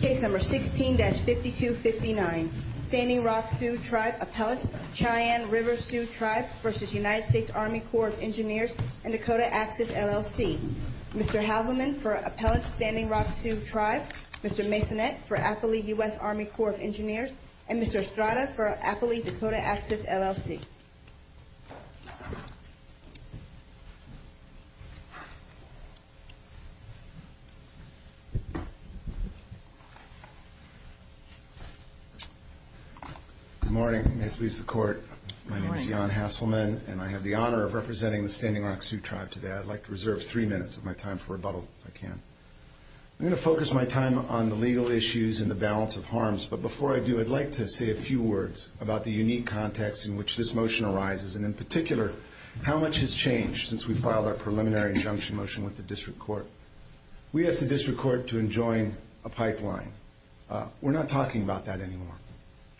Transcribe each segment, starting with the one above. Case No. 16-5259. Standing Rock Sioux Tribe Appellant, Cheyenne River Sioux Tribe v. United States Army Corps of Engineers and Dakota Access LLC. Mr. Halberman for Appellant Standing Rock Sioux Tribe, Mr. Masonette for Appalachian U.S. Army Corps of Engineers, and Mr. Estrada for Appalachian Dakota Access LLC. Good morning. Nice to be in court. My name is Jan Hasselman, and I have the honor of representing the Standing Rock Sioux Tribe today. I'd like to reserve three minutes of my time for rebuttal, if I can. I'm going to focus my time on the legal issues and the balance of harms, but before I do, I'd like to say a few words about the unique context in which this motion arises, and in particular, how much has changed since we filed our preliminary injunction motion with the District Court. We asked the District Court to enjoin a pipeline. We're not talking about that anymore.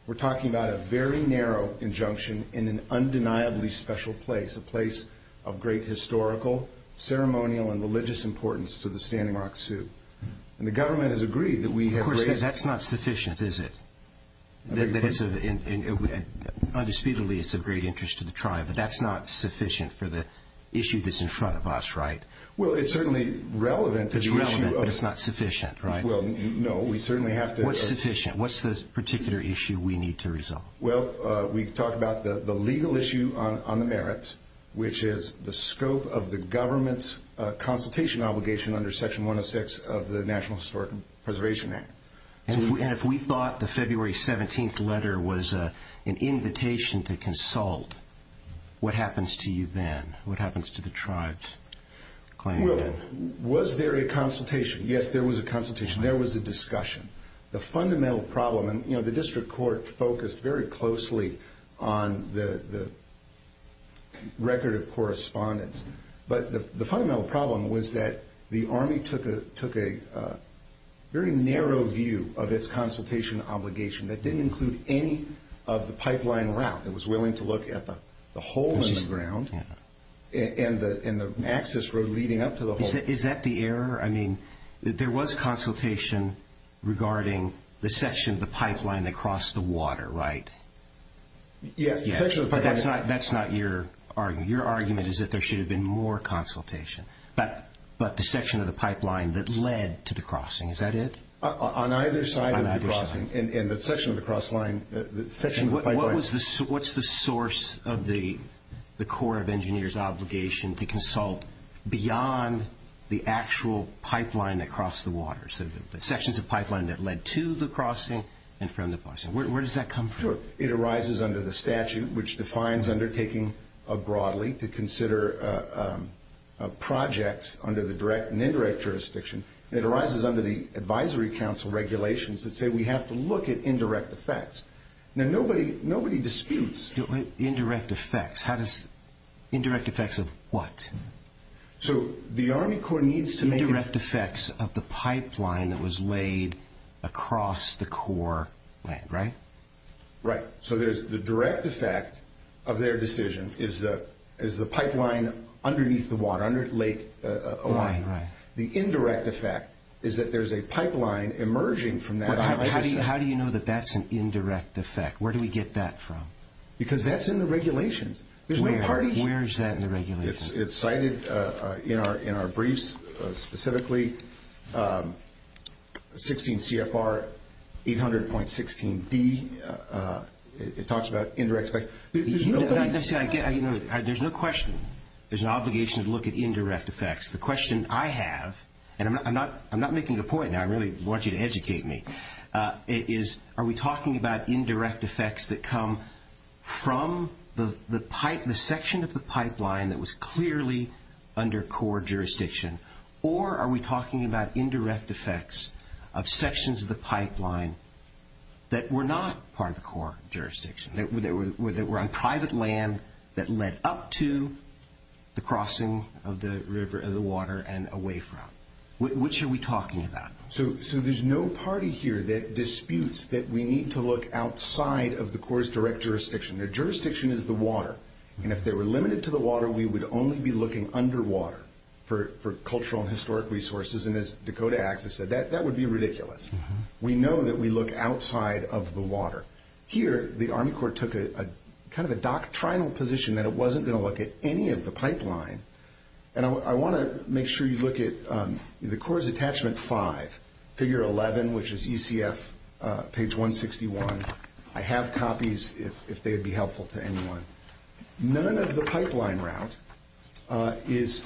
We're talking about a very narrow injunction in an undeniably special place, a place of great historical, ceremonial, and religious importance to the Standing Rock Sioux. And the government has agreed that we have... But that's not sufficient for the issue that's in front of us, right? Well, it's certainly relevant to the issue of... It's relevant, but it's not sufficient, right? Well, no. We certainly have to... What's sufficient? What's the particular issue we need to resolve? Well, we talked about the legal issue on the merits, which is the scope of the government's consultation obligation under Section 106 of the National Historic Preservation Act. And if we thought the February 17th letter was an invitation to consult, what happens to you then? What happens to the tribes? Well, was there a consultation? Yes, there was a consultation. There was a discussion. The fundamental problem, and the district court focused very closely on the record of correspondence, but the fundamental problem was that the Army took a very narrow view of its consultation obligation. That didn't include any of the pipeline route. It was willing to look at the hole in the ground and the access road leading up to the hole. Is that the error? I mean, there was consultation regarding the section of the pipeline that crossed the water, right? Yeah. But that's not your argument. Your argument is that there should have been more consultation, but the section of the pipeline that led to the crossing, is that it? On either side of the crossing. On either side. And the section of the pipeline... What's the source of the Corps of Engineers' obligation to consult beyond the actual pipeline that crossed the water? So the sections of pipeline that led to the crossing and from the crossing. Where does that come from? It arises under the statute, which defines undertaking broadly to consider a project under the direct and indirect jurisdiction. It arises under the advisory council regulations that say we have to look at indirect effects. Now, nobody disputes... Indirect effects. How does... Indirect effects of what? So the Army Corps needs to make... Indirect effects of the pipeline that was laid across the Corps land, right? Right. So there's the direct effect of their decision is the pipeline underneath the water, under Lake Oahu. Right, right. The indirect effect is that there's a pipeline emerging from that... How do you know that that's an indirect effect? Where do we get that from? Because that's in the regulations. Where is that in the regulations? It's cited in our briefs, specifically 16 CFR 800.16B. It talks about indirect effects. There's no question. There's an obligation to look at indirect effects. The question I have, and I'm not making a point, I really want you to educate me, is are we talking about indirect effects that come from the section of the pipeline that was clearly under Corps jurisdiction, or are we talking about indirect effects of sections of the pipeline that were not part of the Corps jurisdiction, that were on private land that led up to the crossing of the river and the water and away from? Which are we talking about? So there's no party here that disputes that we need to look outside of the Corps' direct jurisdiction. Their jurisdiction is the water, and if they were limited to the water, we would only be looking underwater for cultural and historic resources, and as Dakota Axis said, that would be ridiculous. We know that we look outside of the water. Here, the Army Corps took kind of a doctrinal position that it wasn't going to look at any of the pipeline, and I want to make sure you look at the Corps' attachment five, figure 11, which is ECF page 161. I have copies if they would be helpful to anyone. None of the pipeline route is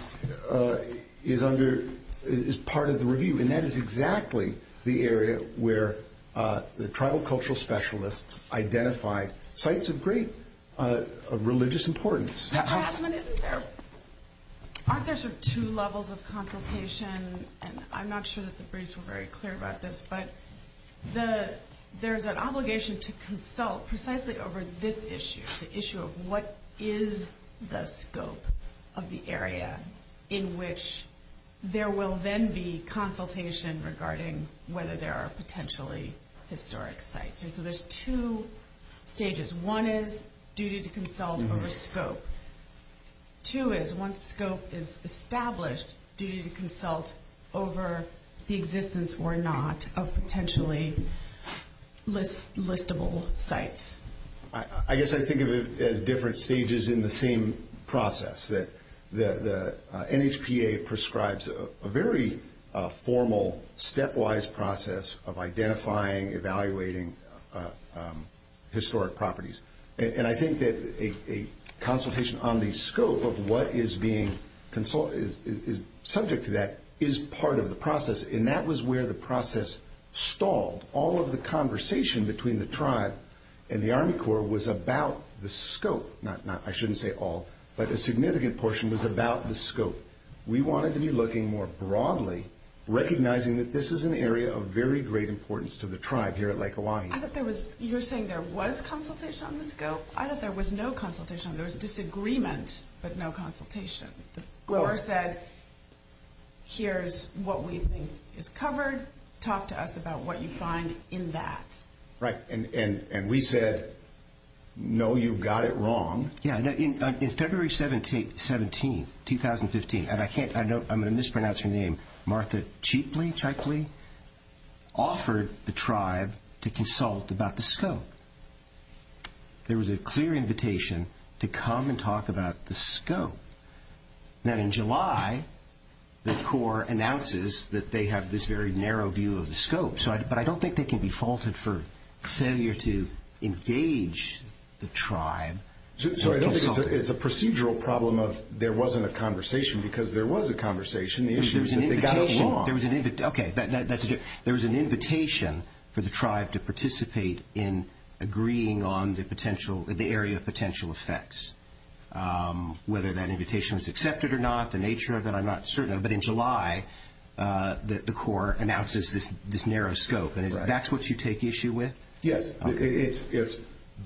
part of the review, and that is exactly the area where the tribal cultural specialists identify sites of great religious importance. Aren't there two levels of consultation, and I'm not sure that the briefs are very clear about this, but there's an obligation to consult precisely over this issue, the issue of what is the scope of the area in which there will then be consultation regarding whether there are potentially historic sites, and so there's two stages. One is duty to consult over scope. Two is once scope is established, duty to consult over the existence or not of potentially listable sites. I guess I think of it as different stages in the same process, that the NHPA prescribes a very formal stepwise process of identifying, evaluating historic properties, and I think that a consultation on the scope of what is subject to that is part of the process, and that was where the process stalled. All of the conversation between the tribe and the Army Corps was about the scope, not I shouldn't say all, but a significant portion was about the scope. We wanted to be looking more broadly, recognizing that this is an area of very great importance to the tribe here at Lake Hawaii. You're saying there was consultation on the scope. I thought there was no consultation. There was a disagreement, but no consultation. The Corps said, here's what we think is covered. Talk to us about what you find in that. Right, and we said, no, you've got it wrong. Yeah, in February 17, 2015, and I'm going to mispronounce her name, Martha Cheatley offered the tribe to consult about the scope. There was a clear invitation to come and talk about the scope. Then in July, the Corps announces that they have this very narrow view of the scope, but I don't think they can be faulted for failure to engage the tribe. So it's a procedural problem of there wasn't a conversation because there was a conversation. There was an invitation for the tribe to participate in agreeing on the area of potential effects, whether that invitation was accepted or not, the nature of it, I'm not certain. But in July, the Corps announces this narrow scope, and that's what you take issue with? Yes, it's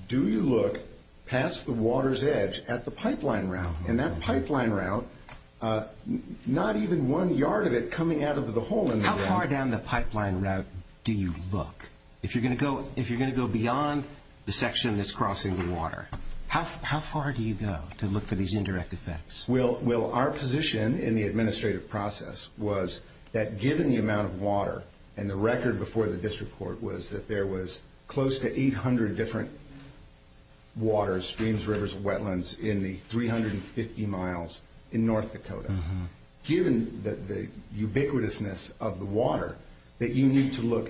do you look past the water's edge at the pipeline route, and that pipeline route, not even one yard of it coming out of the hole in the ground. How far down the pipeline route do you look? If you're going to go beyond the section that's crossing the water, how far do you go to look for these indirect effects? Well, our position in the administrative process was that given the amount of water, and the record before the district court was that there was close to 800 different waters, streams, rivers, wetlands in the 350 miles in North Dakota. Given the ubiquitousness of the water, that you need to look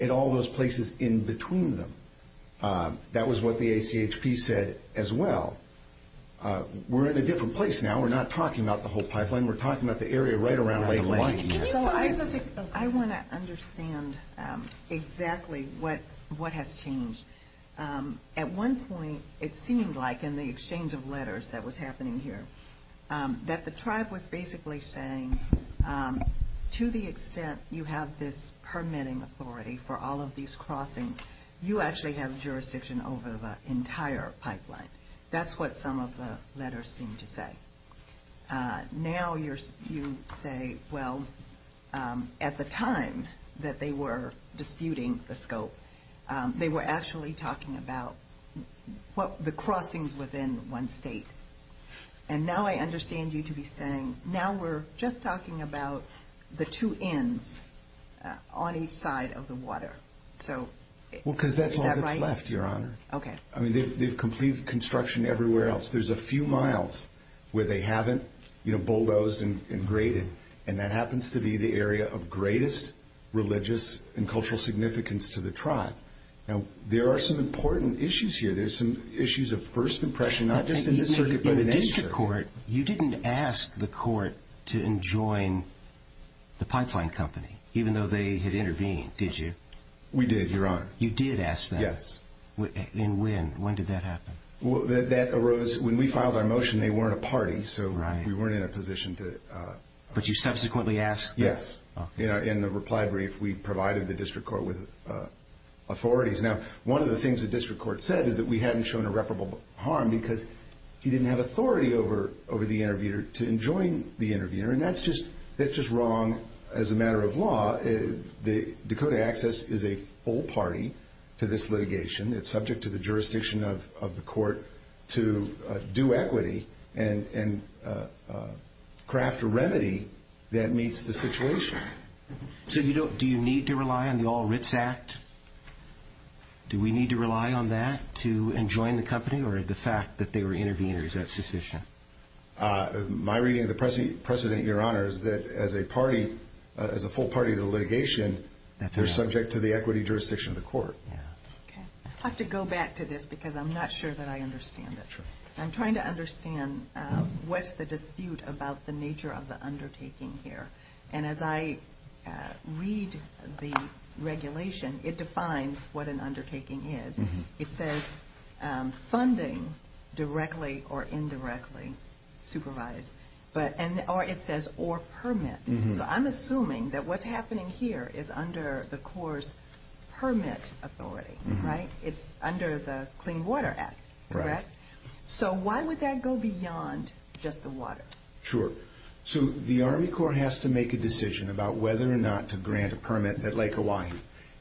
at all those places in between them. That was what the ACHP said as well. We're in a different place now. We're not talking about the whole pipeline. We're talking about the area right around where the line is. I want to understand exactly what has changed. At one point, it seemed like in the exchange of letters that was happening here, that the tribe was basically saying to the extent you have this permitting authority for all of these crossings, you actually have jurisdiction over the entire pipeline. That's what some of the letters seemed to say. Now you say, well, at the time that they were disputing the scope, they were actually talking about the crossings within one state. Now I understand you to be saying, now we're just talking about the two ends on each side of the water. Is that right? Well, because that's all that's left, Your Honor. Okay. They've completed construction everywhere else. There's a few miles where they haven't bulldozed and graded, and that happens to be the area of greatest religious and cultural significance to the tribe. Now there are some important issues here. There's some issues of first impression. You didn't ask the court to enjoin the pipeline company, even though they had intervened, did you? We did, Your Honor. You did ask that? Yes. And when? When did that happen? That arose when we filed our motion. They weren't a party, so we weren't in a position to – But you subsequently asked? Yes. In the reply brief, we provided the district court with authorities. Now one of the things the district court said is that we hadn't shown irreparable harm because he didn't have authority over the interviewer to enjoin the interviewer, and that's just wrong as a matter of law. Dakota Access is a full party to this litigation. It's subject to the jurisdiction of the court to do equity and craft a remedy that meets the situation. So do you need to rely on the All-Rits Act? Do we need to rely on that to enjoin the company or the fact that they were intervening is a suspicion? My reading of the precedent, Your Honor, is that as a full party to the litigation, they're subject to the equity jurisdiction of the court. I have to go back to this because I'm not sure that I understand it. I'm trying to understand what's the dispute about the nature of the undertaking here. And as I read the regulation, it defines what an undertaking is. It says funding directly or indirectly supervised. Or it says or permit. So I'm assuming that what's happening here is under the court's permit authority, right? It's under the Clean Water Act, correct? So why would that go beyond just the water? Sure. So the Army court has to make a decision about whether or not to grant a permit at Lake Oahe.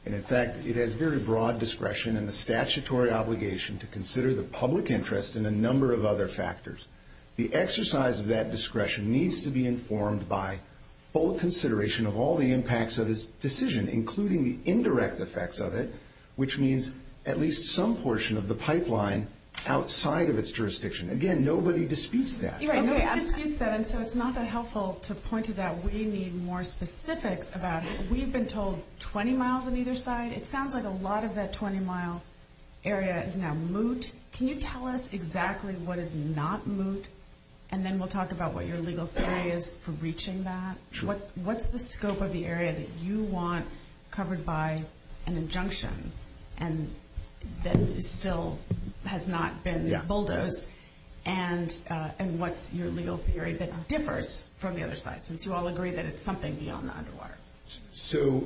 And, in fact, it has very broad discretion and the statutory obligation to consider the public interest and a number of other factors. The exercise of that discretion needs to be informed by full consideration of all the impacts of this decision, including the indirect effects of it, which means at least some portion of the pipeline outside of its jurisdiction. Again, nobody disputes that. Nobody disputes that, and so it's not that helpful to point to that. We need more specifics about it. We've been told 20 miles on either side. It sounds like a lot of that 20-mile area is now moot. Can you tell us exactly what is not moot, and then we'll talk about what your legal theory is for reaching that? What's the scope of the area that you want covered by an injunction, and that still has not been bulldozed, and what's your legal theory that differs from the other side, since you all agree that it's something beyond the underwater? So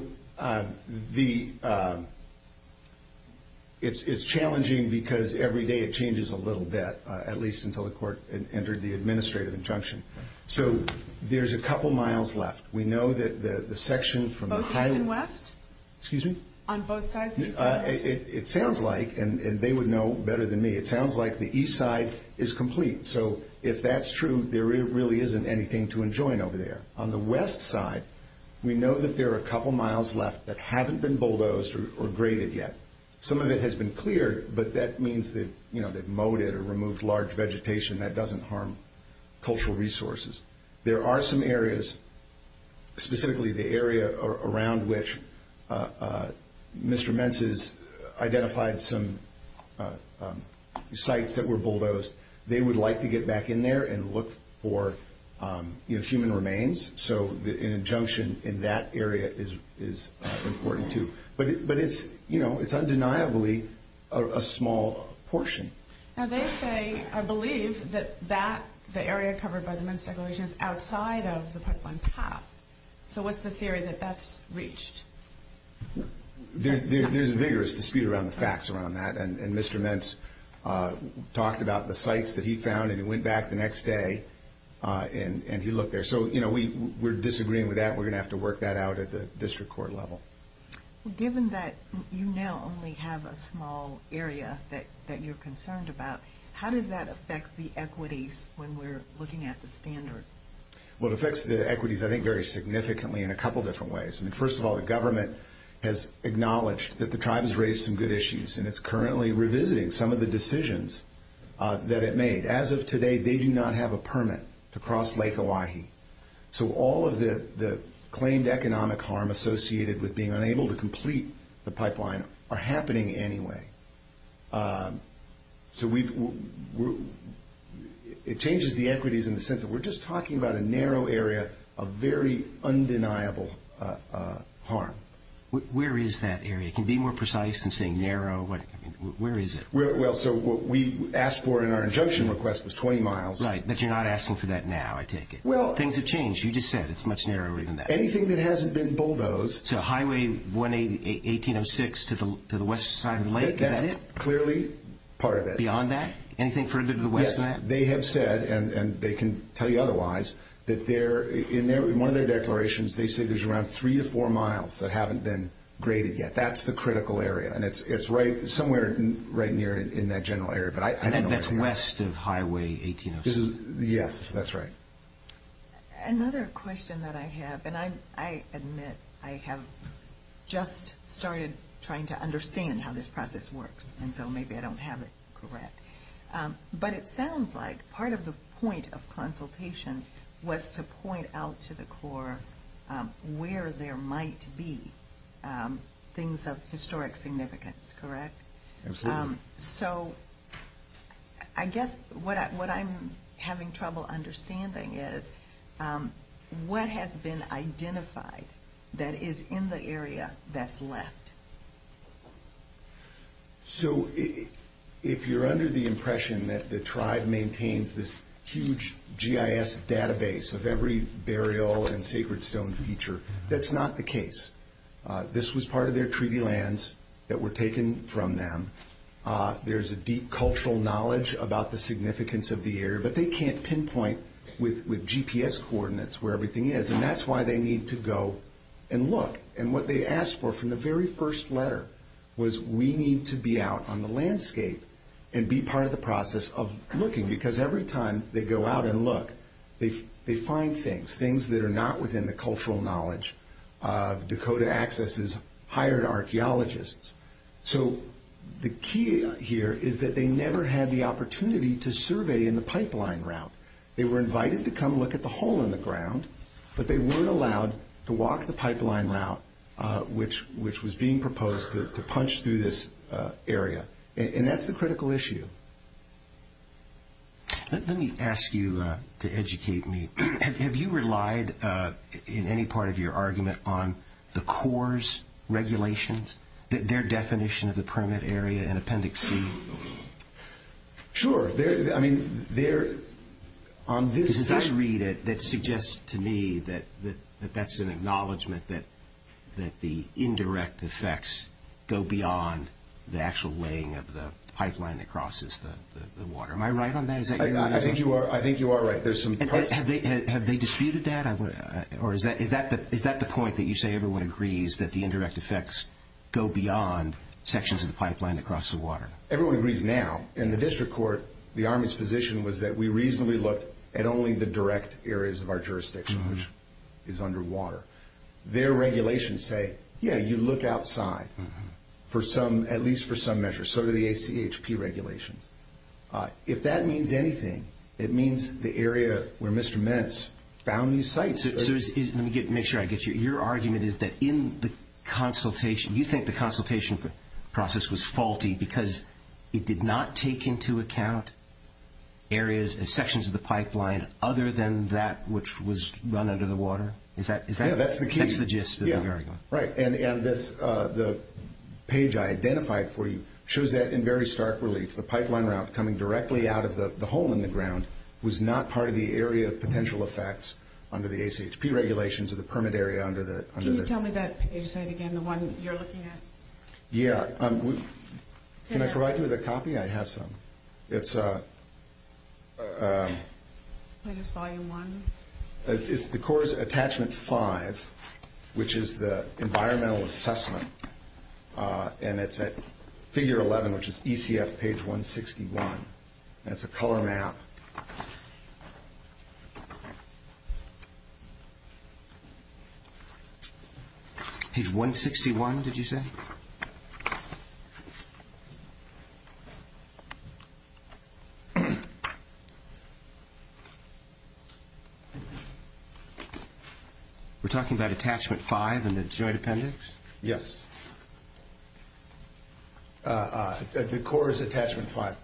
it's challenging because every day it changes a little bit, at least until the court entered the administrative injunction. So there's a couple miles left. We know that the sections from the high- Both east and west? Excuse me? On both sides? It sounds like, and they would know better than me, it sounds like the east side is complete. So if that's true, there really isn't anything to enjoin over there. On the west side, we know that there are a couple miles left that haven't been bulldozed or graded yet. Some of it has been cleared, but that means that, you know, they've mowed it or removed large vegetation. That doesn't harm cultural resources. There are some areas, specifically the area around which Mr. Menses identified some sites that were bulldozed. They would like to get back in there and look for, you know, human remains. So an injunction in that area is important, too. But it's, you know, it's undeniably a small portion. Now they say, or believe, that that, the area covered by the Menses Declaration, is outside of the Pipeline Pass. So what's the theory that that's reached? There's a vigorous dispute around the facts around that. And Mr. Menses talked about the sites that he found, and he went back the next day and he looked there. So, you know, we're disagreeing with that. We're going to have to work that out at the district court level. Given that you now only have a small area that you're concerned about, how does that affect the equities when we're looking at the standards? Well, it affects the equities, I think, very significantly in a couple different ways. I mean, first of all, the government has acknowledged that the tribe has raised some good issues, and it's currently revisiting some of the decisions that it made. As of today, they do not have a permit to cross Lake Elahi. So all of the claimed economic harm associated with being unable to complete the pipeline are happening anyway. So it changes the equities in the sense that we're just talking about a narrow area of very undeniable harm. Where is that area? It can be more precise than saying narrow. Where is it? Well, so what we asked for in our injunction request was 20 miles. Right, but you're not asking for that now, I take it. Things have changed. You just said it's much narrower than that. Anything that hasn't been bulldozed. So Highway 1806 to the west side of the lake, is that it? That's clearly part of it. Beyond that? Anything further to the west of that? Yes, they have said, and they can tell you otherwise, that in one of their declarations, they say there's around three to four miles that haven't been graded yet. That's the critical area, and it's somewhere right near in that general area. And that's west of Highway 1806. Yes, that's right. Another question that I have, and I admit I have just started trying to understand how this process works, and so maybe I don't have it correct. But it sounds like part of the point of consultation was to point out to the Corps where there might be things of historic significance, correct? Absolutely. So I guess what I'm having trouble understanding is what has been identified that is in the area that's left? So if you're under the impression that the tribe maintains this huge GIS database of every burial and sacred stone feature, that's not the case. This was part of their treaty lands that were taken from them. There's a deep cultural knowledge about the significance of the area, but they can't pinpoint with GPS coordinates where everything is. And that's why they need to go and look. And what they asked for from the very first letter was, we need to be out on the landscape and be part of the process of looking. Because every time they go out and look, they find things, things that are not within the cultural knowledge. Dakota Access has hired archaeologists. So the key here is that they never had the opportunity to survey in the pipeline route. They were invited to come look at the hole in the ground, but they weren't allowed to walk the pipeline route, which was being proposed to punch through this area. And that's the critical issue. Let me ask you to educate me. Have you relied in any part of your argument on the Corps' regulations, their definition of the permit area and appendix C? Sure. There's a theory that suggests to me that that's an acknowledgement that the indirect effects go beyond the actual laying of the pipeline that crosses the water. Am I right on that? I think you are right. Have they disputed that? Or is that the point that you say everyone agrees that the indirect effects go beyond sections of the pipeline that cross the water? Everyone agrees now. In the district court, the Army's position was that we reasonably looked at only the direct areas of our jurisdiction, which is underwater. Their regulations say, yeah, you look outside, at least for some measure. So do the ACHP regulations. If that means anything, it means the area where Mr. Minitz found these sites. Let me make sure I get you. Your argument is that in the consultation, you think the consultation process was faulty because it did not take into account areas and sections of the pipeline other than that which was run under the water? Yeah, that's the case. Right. And the page I identified for you shows that in very stark relief. The pipeline route coming directly out of the hole in the ground was not part of the area of potential effects under the Can you tell me that page again, the one you're looking at? Yeah. Can I provide you with a copy? I have some. It's a Volume 1? It's the course attachment 5, which is the environmental assessment. And it's at figure 11, which is ECF page 161. That's a color map. Page 161, did you say? We're talking about attachment 5 in the joint appendix? Yes. The course attachment 5.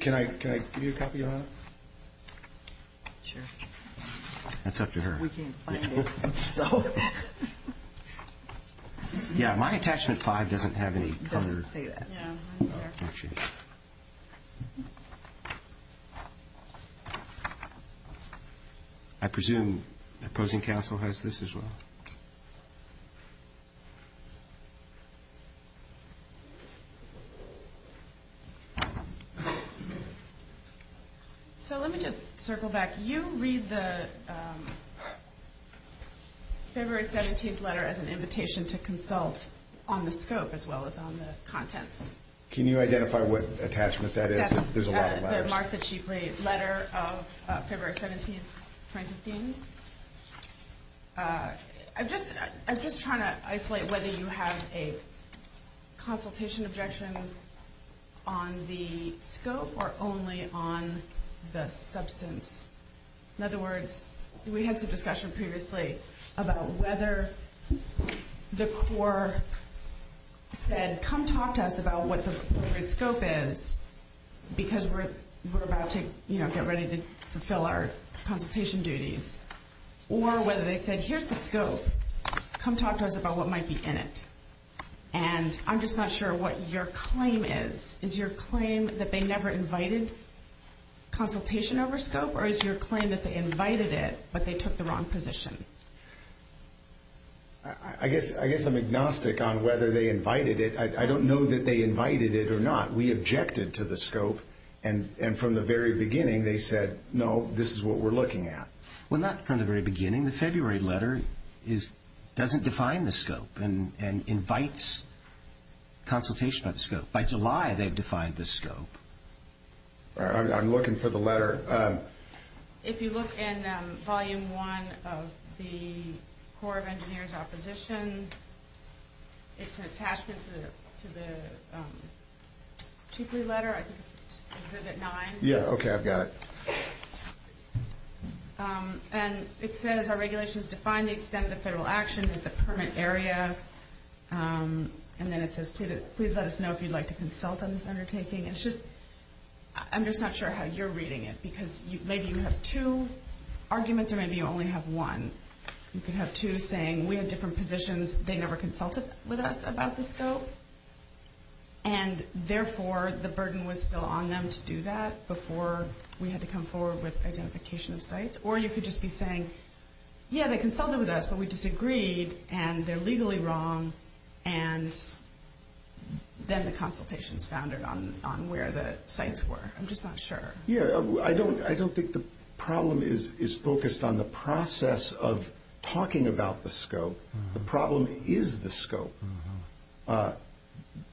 Can I give you a copy of that? Sure. That's up to her. We can't find it. Yeah, my attachment 5 doesn't have any color. Yeah. I presume opposing counsel has this as well. So let me just circle back. You read the February 17th letter as an invitation to consult on the scope as well as on the content. Can you identify what attachment that is? There's a lot of that. I'm just trying to isolate whether you have a consultation objection on the scope or only on the substance. In other words, we had a discussion previously about whether the core said, come talk to us about what the scope is because we're about to get ready to fulfill our consultation duties. Or whether they said, here's the scope. Come talk to us about what might be in it. I'm just not sure what your claim is. Is your claim that they never invited consultation over scope? Or is your claim that they invited it, but they took the wrong position? I guess I'm agnostic on whether they invited it. I don't know that they invited it or not. We objected to the scope. And from the very beginning, they said, no, this is what we're looking at. Well, not from the very beginning. In the February letter, it doesn't define the scope and invites consultation of the scope. By July, they defined the scope. I'm looking for the letter. If you look in volume one of the Corps of Engineers opposition, it's attached to the letter. I heard it nine. Yeah, okay, I've got it. And it says, our regulations define the extent of federal action. It's a permit area. And then it says, please let us know if you'd like to consult on this undertaking. It's just, I'm just not sure how you're reading it. Because maybe you have two arguments, or maybe you only have one. You could have two saying, we have different positions. They never consulted with us about the scope. And, therefore, the burden was still on them to do that before we had to come forward with identification of sites. Or you could just be saying, yeah, they consulted with us, but we disagreed. And they're legally wrong. And then the consultation is founded on where the sites were. I'm just not sure. Yeah, I don't think the problem is focused on the process of talking about the scope. The problem is the scope.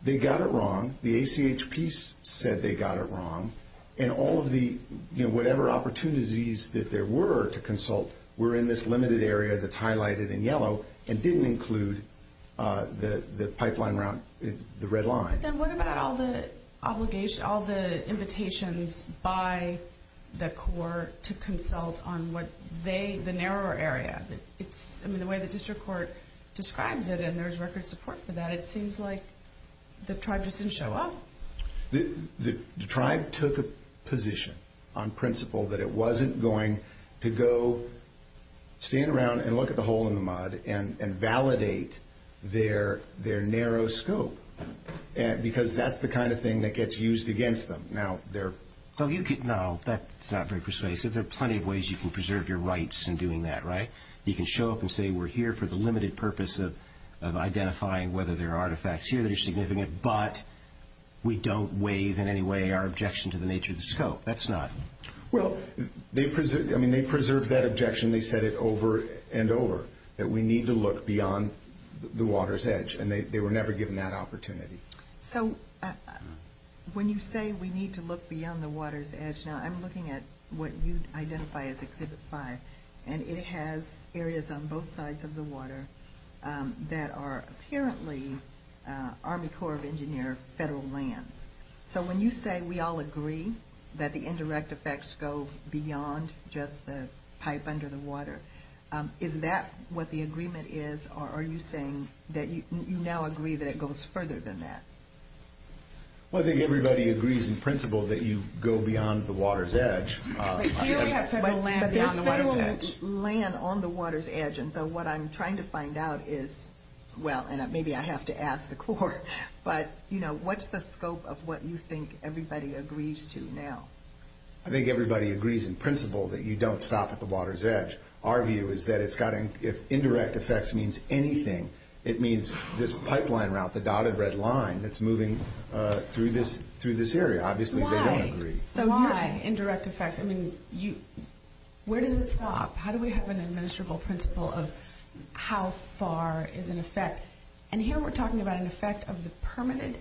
They got it wrong. The ACHP said they got it wrong. And all of the, you know, whatever opportunities that there were to consult were in this limited area that's highlighted in yellow and didn't include the pipeline route, the red line. And what about all the invitations by the Corps to consult on what they, the narrower area? I mean, the way the district court describes it, and there's record support for that, it seems like the tribe just didn't show up. The tribe took a position on principle that it wasn't going to go stand around and look at the hole in the mud and validate their narrow scope because that's the kind of thing that gets used against them. Now, there are plenty of ways you can preserve your rights in doing that, right? You can show up and say we're here for the limited purpose of identifying whether there are artifacts here that are significant, but we don't waive in any way our objection to the nature of the scope. That's not. Well, they preserved that objection. They said it over and over, that we need to look beyond the water's edge. And they were never given that opportunity. I'm looking at what you identify as exhibit five, and it has areas on both sides of the water that are apparently Army Corps of Engineers federal lands. So when you say we all agree that the indirect effects go beyond just the pipe under the water, is that what the agreement is, or are you saying that you now agree that it goes further than that? Well, I think everybody agrees in principle that you go beyond the water's edge. But there's federal land on the water's edge, and so what I'm trying to find out is, well, and maybe I have to ask the court, but, you know, what's the scope of what you think everybody agrees to now? I think everybody agrees in principle that you don't stop at the water's edge. Our view is that if indirect effects means anything, it means this pipeline route, the dotted red line, that's moving through this area. Obviously, they don't agree. Why? So why indirect effects? I mean, where does it stop? How do we have an administrable principle of how far is an effect? And here we're talking about an effect of the permanent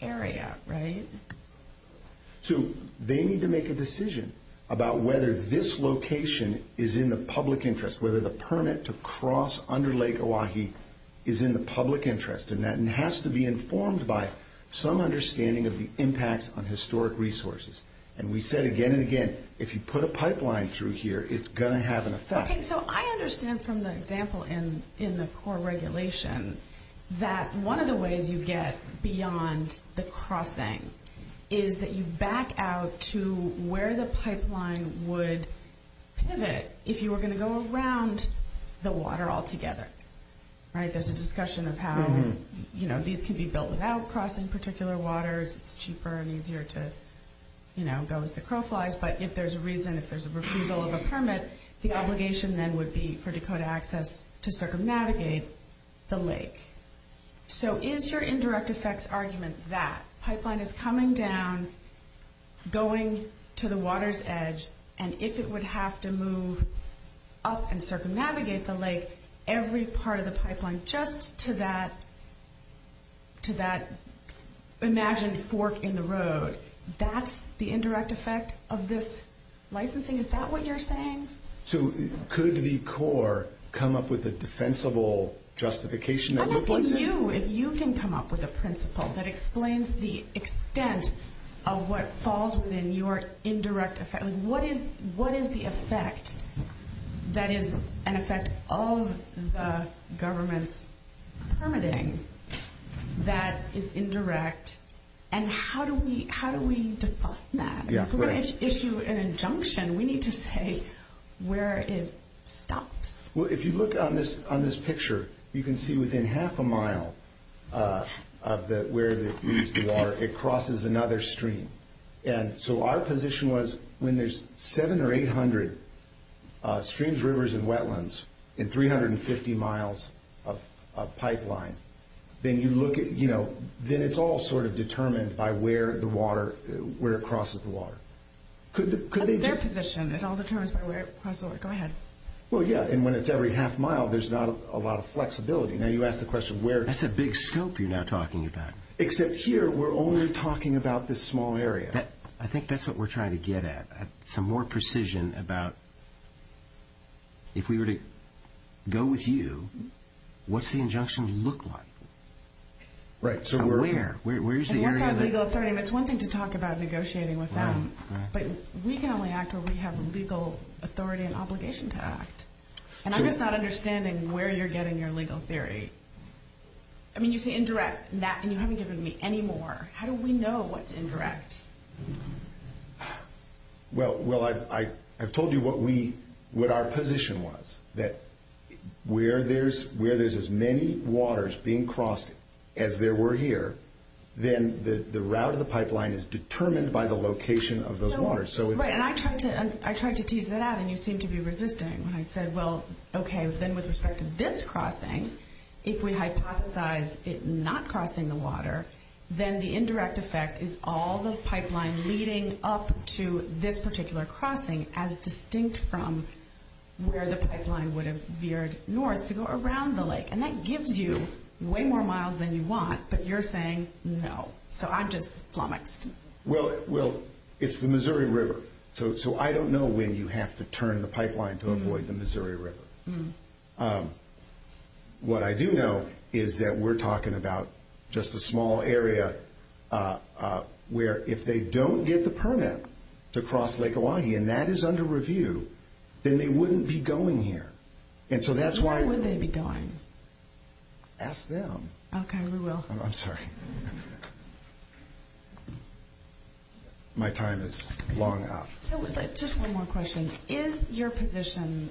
area, right? So they need to make a decision about whether this location is in the public interest, whether the permit to cross under Lake Oahe is in the public interest, and that has to be informed by some understanding of the impact on historic resources. And we said again and again, if you put a pipeline through here, it's going to have an effect. Okay, so I understand from the example in the core regulation that one of the ways you get beyond the crossing is that you back out to where the pipeline would pivot if you were going to go around the water altogether, right? There's a discussion of how, you know, these can be built without crossing particular waters. It's cheaper and easier to, you know, go with the crow flies. But if there's a reason, if there's a refusal of a permit, the obligation then would be for Dakota access to circumnavigate the lake. So is your indirect effects argument that pipeline is coming down, going to the water's edge, and if it would have to move up and circumnavigate the lake, every part of the pipeline just to that imagined fork in the road, that's the indirect effect of this licensing? Is that what you're saying? So could the core come up with a defensible justification? I'm asking you if you can come up with a principle that explains the extent of what falls within your indirect effect. What is the effect that is an effect of the government's permitting that is indirect? And how do we discuss that? If we're going to issue an injunction, we need to say where it stops. Well, if you look on this picture, you can see within half a mile of where the creeks are, it crosses another stream. And so our position was when there's 700 or 800 streams, rivers, and wetlands in 350 miles of pipeline, then you look at, you know, then it's all sort of determined by where the water, where it crosses the water. Their position is all determined by where it crosses the water. Go ahead. Well, yeah, and when it's every half mile, there's not a lot of flexibility. Now you ask the question where... That's a big scope you're now talking about. Except here, we're only talking about this small area. I think that's what we're trying to get at, some more precision about if we were to go with you, what's the injunction look like? Right, so we're... Where? Where's the area that... And that's not legal authority, and that's one thing to talk about negotiating with them. Right, right. But we can only act where we have legal authority and obligation to act. And I'm just not understanding where you're getting your legal theory. I mean, you say indirect, and you haven't given me any more. How do we know what's indirect? Well, I've told you what our position was, that where there's as many waters being crossed as there were here, then the route of the pipeline is determined by the location of those waters. Right, and I tried to tease that out, and you seemed to be resisting. I said, well, okay, then with respect to this crossing, if we hypothesize it not crossing the water, then the indirect effect is all the pipeline leading up to this particular crossing as distinct from where the pipeline would have veered north to go around the lake. And that gives you way more miles than you want, but you're saying no. So I'm just flummoxed. Well, it's the Missouri River, so I don't know when you have to turn the pipeline to avoid the Missouri River. What I do know is that we're talking about just a small area where if they don't get the permit to cross Lake Oahe, and that is under review, then they wouldn't be going here. Where would they be going? Ask them. Okay, we will. I'm sorry. My time is long up. Just one more question. Is your position,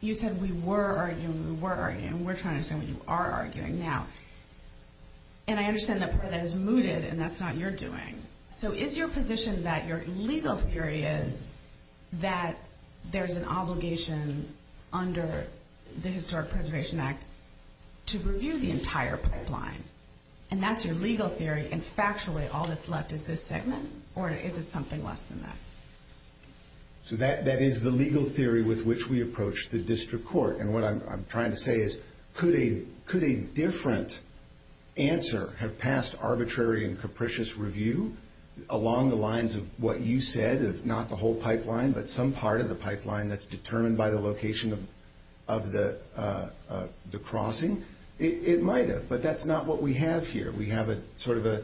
you said we were arguing, we were arguing, and we're trying to say we are arguing now. And I understand that part of that is mooted, and that's not your doing. So is your position that your legal theory is that there's an obligation under the Historic Preservation Act to review the entire pipeline, and that's your legal theory, and factually all that's left is this segment, or is it something less than that? So that is the legal theory with which we approach the district court, and what I'm trying to say is could a different answer have passed arbitrary and capricious review along the lines of what you said of not the whole pipeline, but some part of the pipeline that's determined by the location of the crossing? It might have, but that's not what we have here. We have sort of a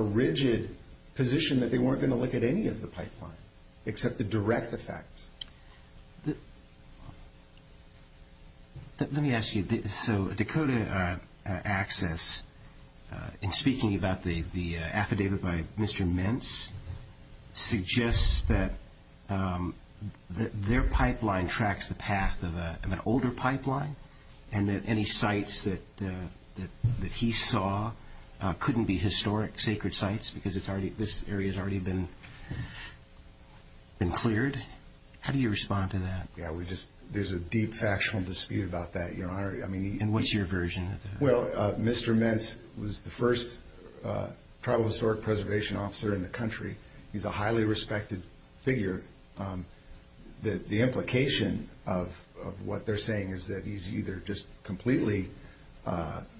rigid position that they weren't going to look at any of the pipelines except the direct effects. Let me ask you, so Dakota Access, in speaking about the affidavit by Mr. Mintz, suggests that their pipeline tracks the path of an older pipeline, and that any sites that he saw couldn't be historic, sacred sites, because this area has already been cleared. How do you respond to that? Yeah, there's a deep factual dispute about that. And what's your version? Well, Mr. Mintz was the first Tribal Historic Preservation Officer in the country. He's a highly respected figure. The implication of what they're saying is that he's either just completely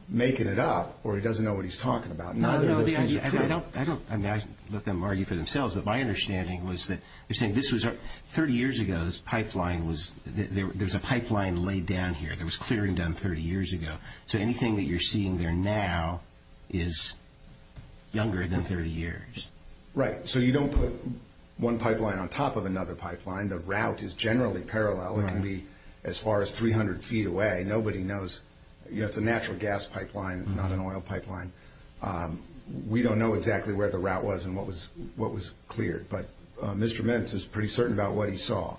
making it up, or he doesn't know what he's talking about. No, no, I don't – I mean, I look at them already for themselves, but my understanding was that they're saying this was – 30 years ago, this pipeline was – there was a pipeline laid down here that was cleared and done 30 years ago. So anything that you're seeing there now is younger than 30 years. Right, so you don't put one pipeline on top of another pipeline. The route is generally parallel. It can be as far as 300 feet away. Nobody knows – it's a natural gas pipeline, not an oil pipeline. We don't know exactly where the route was and what was cleared, but Mr. Mintz is pretty certain about what he saw.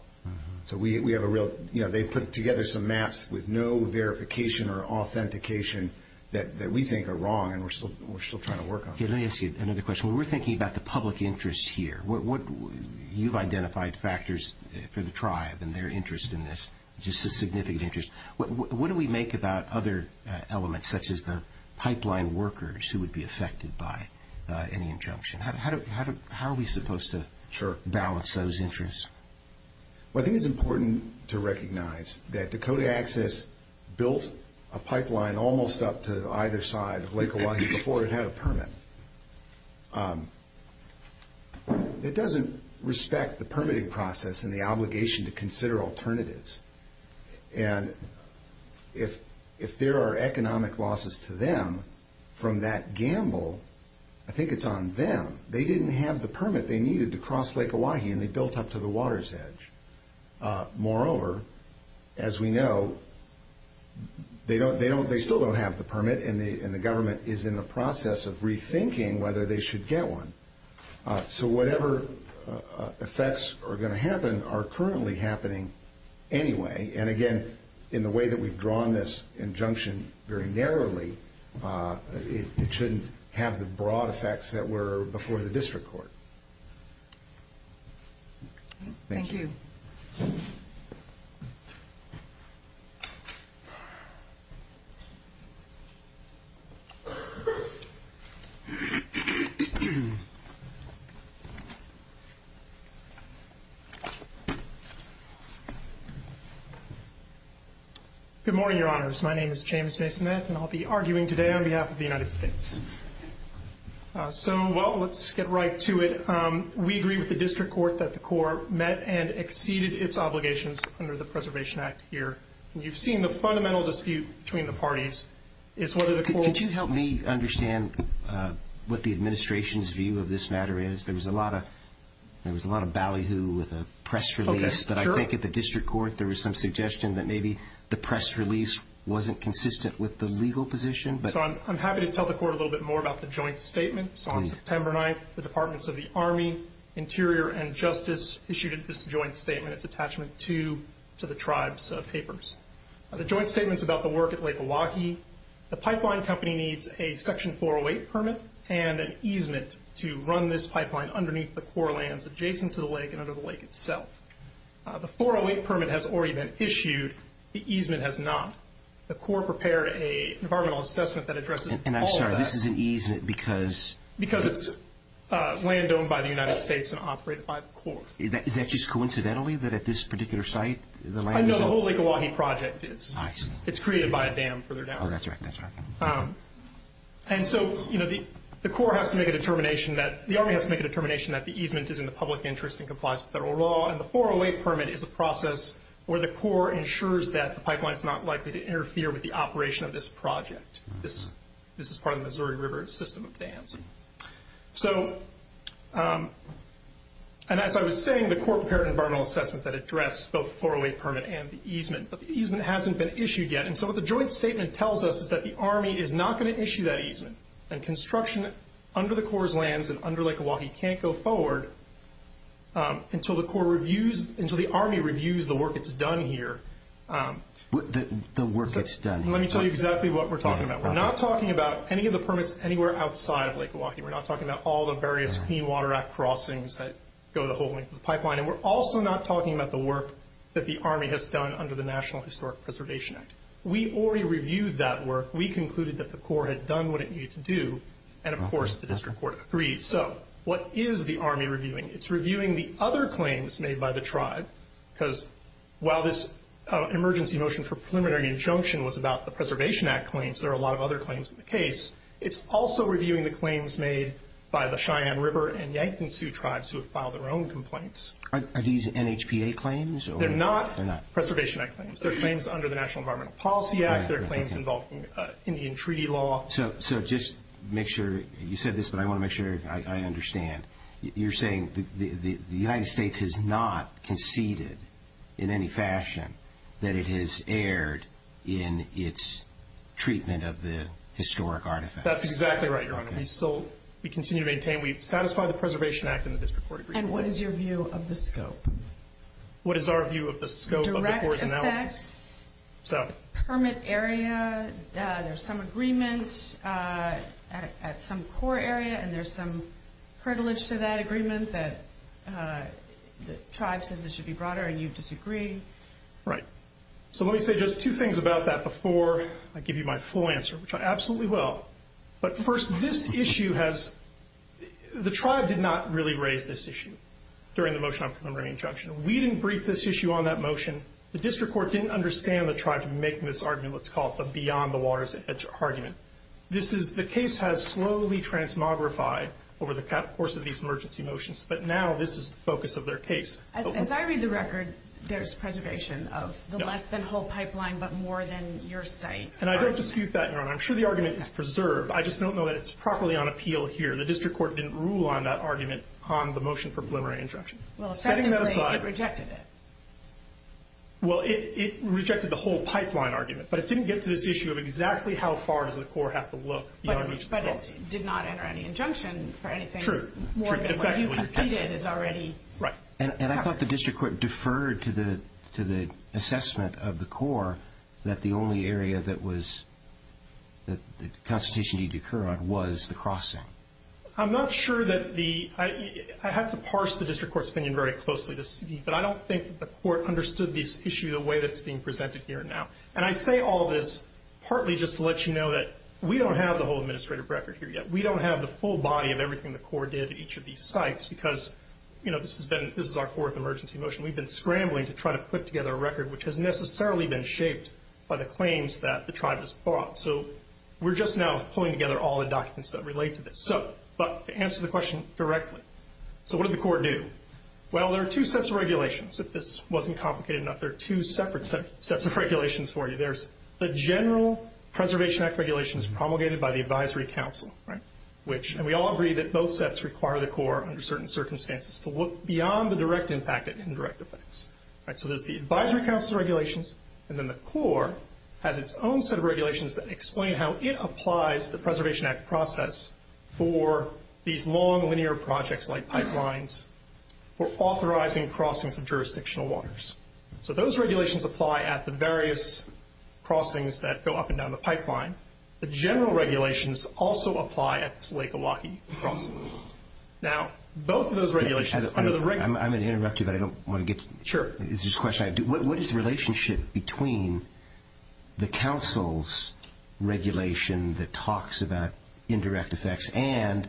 So we have a real – you know, they put together some maps with no verification or authentication that we think are wrong and we're still trying to work on. Let me ask you another question. When we're thinking about the public interest here, what – you've identified factors for the tribe and their interest in this, just a significant interest. What do we make about other elements such as the pipeline workers who would be affected by any injunction? How are we supposed to balance those interests? Well, I think it's important to recognize that Dakota Access built a pipeline almost up to either side of Lake Elisa before it had a permit. It doesn't respect the permitting process and the obligation to consider alternatives. And if there are economic losses to them from that gamble, I think it's on them. They didn't have the permit they needed to cross Lake Oahe and they built up to the water's edge. Moreover, as we know, they still don't have the permit and the government is in the process of rethinking whether they should get one. So whatever effects are going to happen are currently happening anyway. And again, in the way that we've drawn this injunction very narrowly, it shouldn't have the broad effects that were before the district court. Thank you. Good morning, Your Honors. My name is James Smith and I'll be arguing today on behalf of the United States. So, well, let's get right to it. We agree with the district court that the court met and exceeded its obligations under the Preservation Act here. And you've seen the fundamental dispute between the parties is whether the court... There was a lot of ballyhoo with the press release. But I think at the district court, there was some suggestion that maybe the press release wasn't consistent with the legal position. So I'm happy to tell the court a little bit more about the joint statement. So on September 9th, the Departments of the Army, Interior, and Justice issued this joint statement. It's attachment to the tribe's papers. The joint statement's about the work at Lake Milwaukee. The pipeline company needs a Section 408 permit and an easement to run this pipeline underneath the core lands adjacent to the lake and under the lake itself. The 408 permit has already been issued. The easement has not. The court prepared an environmental assessment that addresses all of that. And I'm sorry, this is an easement because... Because it's land owned by the United States and operated by the court. Is that just coincidentally that at this particular site, the land is... I know the whole Lake Milwaukee project is. It's created by a dam further down. Oh, that's right, that's right. And so, you know, the Corps has to make a determination that... The Army has to make a determination that the easement is in the public interest and complies with federal law. And the 408 permit is a process where the Corps ensures that the pipeline is not likely to interfere with the operation of this project. This is part of the Missouri River system of dams. So... And as I was saying, the court prepared an environmental assessment that addressed both the 408 permit and the easement. But the easement hasn't been issued yet. And so what the joint statement tells us is that the Army is not going to issue that easement. And construction under the Corps' lands and under Lake Milwaukee can't go forward until the Corps reviews... Until the Army reviews the work that's done here. The work that's done. Let me tell you exactly what we're talking about. We're not talking about any of the permits anywhere outside Lake Milwaukee. We're not talking about all the various Clean Water Act crossings that go the whole length of the pipeline. And we're also not talking about the work that the Army has done under the National Historic Preservation Act. We already reviewed that work. We concluded that the Corps had done what it needed to do. And, of course, the District Court agrees. So what is the Army reviewing? It's reviewing the other claims made by the tribe. Because while this emergency motion for preliminary injunction was about the Preservation Act claims, there are a lot of other claims in the case. It's also reviewing the claims made by the Cheyenne River and Yankton Sioux tribes who have filed their own complaints. Are these NHPA claims? They're not Preservation Act claims. They're claims under the National Environmental Policy Act. They're claims involving Indian treaty law. So just make sure you said this, but I want to make sure I understand. You're saying the United States has not conceded in any fashion that it has erred in its treatment of the historic artifacts. That's exactly right, Your Honor. We continue to maintain we satisfy the Preservation Act and the District Court agrees. And what is your view of the scope? What is our view of the scope of the originality? Direct effect, permit area, there's some agreement at some core area, and there's some privilege to that agreement that tribes think this should be broader and you disagree. Right. So let me say just two things about that before I give you my full answer, which I absolutely will. But first, this issue has – the tribe did not really raise this issue during the motion on preliminary injunction. We didn't brief this issue on that motion. The District Court didn't understand the tribe in making this argument beyond the waters argument. The case has slowly transmogrified over the course of these emergency motions, but now this is the focus of their case. As I read the record, there's preservation of the less than whole pipeline but more than your site. And I don't dispute that. I'm sure the argument is preserved. I just don't know that it's properly on appeal here. The District Court didn't rule on that argument on the motion for preliminary injunction. Well, it rejected it. Well, it rejected the whole pipeline argument, but it didn't get to this issue of exactly how far does the core have to look. But it did not enter any injunction for anything more than what you've already – Right. And I thought the District Court deferred to the assessment of the core that the only area that the consultation needed to occur on was the crossing. I'm not sure that the – I have to parse the District Court's opinion very closely to see, but I don't think that the court understood this issue the way that it's being presented here now. And I say all this partly just to let you know that we don't have the whole administrative record here yet. We don't have the full body of everything the core did at each of these sites because, you know, this is our fourth emergency motion. We've been scrambling to try to put together a record which has necessarily been shaped by the claims that the tribe has fought. So we're just now pulling together all the documents that relate to this. But to answer the question directly, so what did the core do? Well, there are two sets of regulations. If this wasn't complicated enough, there are two separate sets of regulations for you. There's the General Preservation Act regulations promulgated by the Advisory Council, right, which – and we all agree that both sets require the core, under certain circumstances, to look beyond the direct impact and indirect effects. So there's the Advisory Council regulations, and then the core has its own set of regulations that explain how it applies the Preservation Act process for these long, linear projects like pipelines or authorizing crossings of jurisdictional waters. So those regulations apply at the various crossings that go up and down the pipeline. The general regulations also apply at Lake Milwaukee crossings. Now, both of those regulations under the – I'm going to interrupt you, but I don't want to get – Sure. It's just a question. What is the relationship between the council's regulation that talks about indirect effects and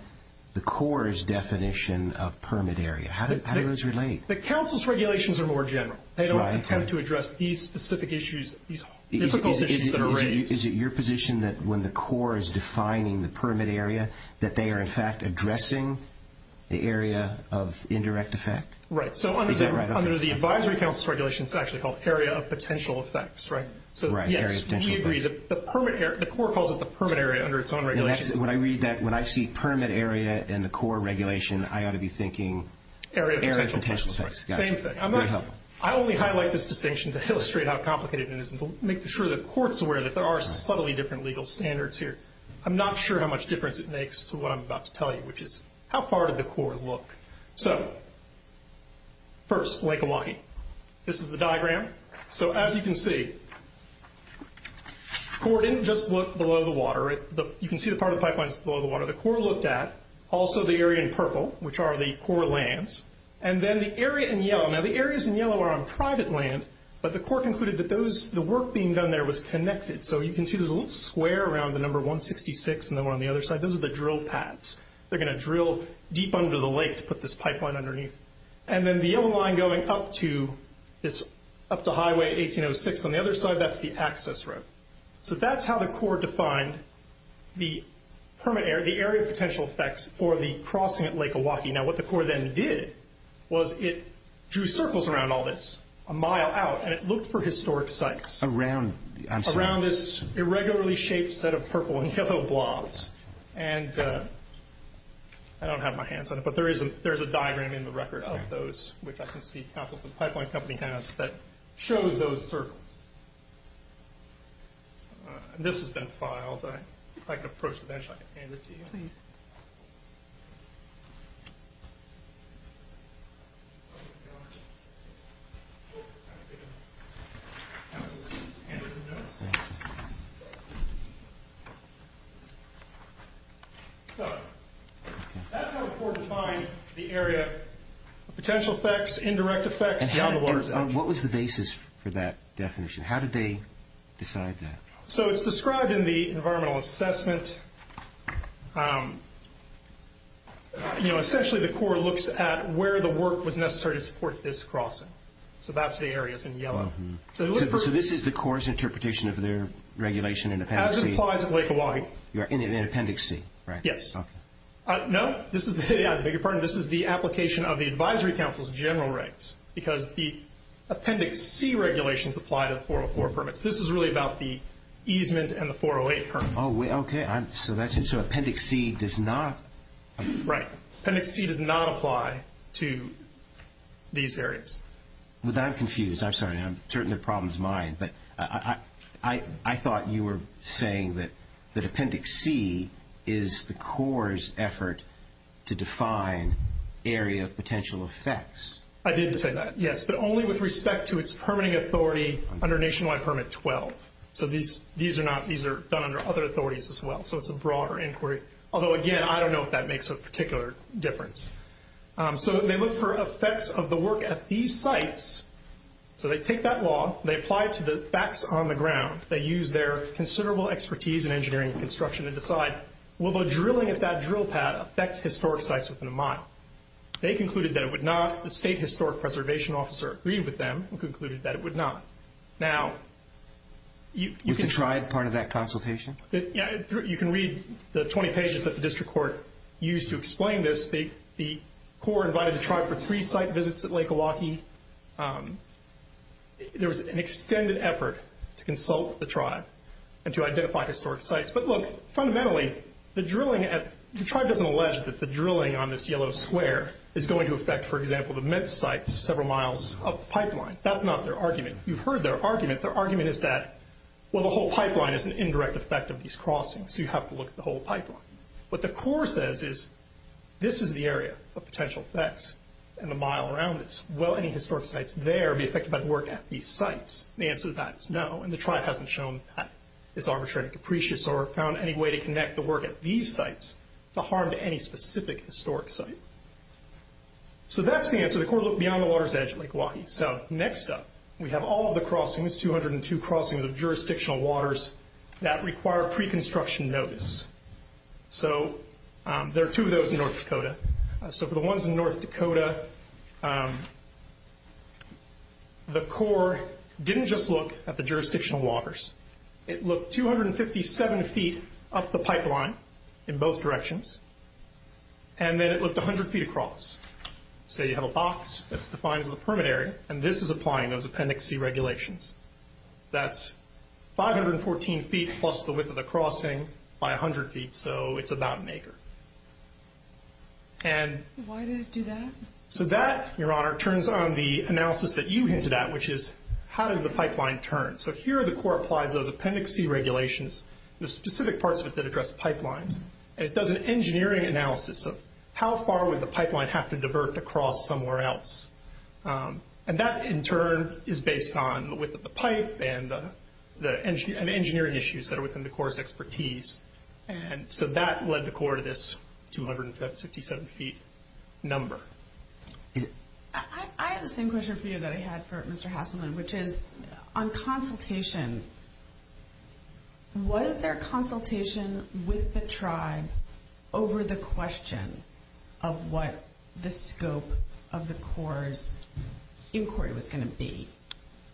the core's definition of permit area? How do those relate? The council's regulations are more general. They don't have to address these specific issues, these difficult issues that are raised. Is it your position that when the core is defining the permit area, that they are, in fact, addressing the area of indirect effect? Right. So under the Advisory Council's regulation, it's actually called area of potential effects, right? Right, area of potential effects. So, yes, we agree. The permit area – the core calls it the permit area under its own regulation. When I read that, when I see permit area and the core regulation, I ought to be thinking area of potential effects. Same thing. I only highlight this distinction to illustrate how complicated it is and to make sure that the court's aware that there are subtly different legal standards here. I'm not sure how much difference it makes to what I'm about to tell you, which is how far did the core look? So, first, Lake Milwaukee. This is the diagram. So as you can see, the core didn't just look below the water. You can see the part of the pipeline is below the water. The core looked at also the area in purple, which are the core lands, and then the area in yellow. Now, the areas in yellow are on private land, but the court concluded that those – the work being done there was connected. So you can see there's a little square around the number 166, and then on the other side, those are the drill pads. They're going to drill deep under the lake to put this pipeline underneath. And then the yellow line going up to – it's up to Highway 1806. On the other side, that's the access road. So that's how the core defined the permit area – the area of potential effects for the crossing at Lake Milwaukee. Now, what the core then did was it drew circles around all this a mile out, and it looked for historic sites. Around? Around this irregularly shaped set of purple and yellow blobs. And I don't have my hands on it, but there is a diagram in the record of those, which I can see the pipeline company has, that shows those circles. This has been filed. If I can approach the bench, I can hand it to you. So that's how the core defined the area of potential effects, indirect effects, and the water's out. And what was the basis for that definition? How did they decide that? So it's described in the environmental assessment. You know, essentially, the core looks at where the work was necessary to support this crossing. So that's the areas in yellow. So this is the core's interpretation of their regulation in Appendix C? As it applies at Lake Milwaukee. In Appendix C? Yes. No, this is the application of the Advisory Council's general rights, because the Appendix C regulations apply to 404 permits. This is really about the easement and the 408 permit. Oh, okay. So Appendix C does not... Right. Appendix C does not apply to these areas. I'm confused. I'm sorry. I'm certain the problem is mine. But I thought you were saying that Appendix C is the core's effort to define area of potential effects. I did say that, yes. But only with respect to its permitting authority under Nationwide Permit 12. So these are done under other authorities as well. So it's a broader inquiry. Although, again, I don't know if that makes a particular difference. So they look for effects of the work at these sites. So they take that law. They apply it to the facts on the ground. They use their considerable expertise in engineering and construction to decide, will the drilling at that drill pad affect historic sites within the mine? They concluded that it would not. The State Historic Preservation Officer agreed with them and concluded that it would not. Now, you can... You can try part of that consultation? You can read the 20 pages that the district court used to explain this. The court invited the tribe for three site visits at Lake Milwaukee. There was an extended effort to consult with the tribe and to identify historic sites. But look, fundamentally, the drilling at... The tribe doesn't allege that the drilling on this yellow square is going to affect, for example, the METS site several miles up the pipeline. That's not their argument. You've heard their argument. Their argument is that, well, the whole pipeline is an indirect effect of these crossings. You have to look at the whole pipeline. What the court says is, this is the area of potential effects and the mile around it. Will any historic sites there be affected by the work at these sites? The answer to that is no, and the tribe hasn't shown that. It's arbitrary and capricious or found any way to connect the work at these sites to harm any specific historic site. So that's the answer. The court looked beyond the water's edge at Lake Milwaukee. So next up, we have all of the crossings, 202 crossings of jurisdictional waters that require pre-construction notice. So there are two of those in North Dakota. So for the ones in North Dakota, the court didn't just look at the jurisdictional waters. It looked 257 feet up the pipeline in both directions, and then it looked 100 feet across. So you have a box that's defined as a permit area, and this is applying those appendix C regulations. That's 514 feet plus the width of the crossing by 100 feet, so it's about an acre. And... Why did it do that? So that, Your Honor, turns on the analysis that you hinted at, which is, how does the pipeline turn? So here, the court applies those appendix C regulations, the specific parts of it that address the pipeline. And it does an engineering analysis of, how far would the pipeline have to divert across somewhere else? And that, in turn, is based on the width of the pipe and the engineering issues that are within the court's expertise. And so that led the court to this 267 feet number. I have the same question for you that I had for Mr. Hassell, which is, on consultation, was there consultation with the tribe over the question of what the scope of the court's inquiry was going to be,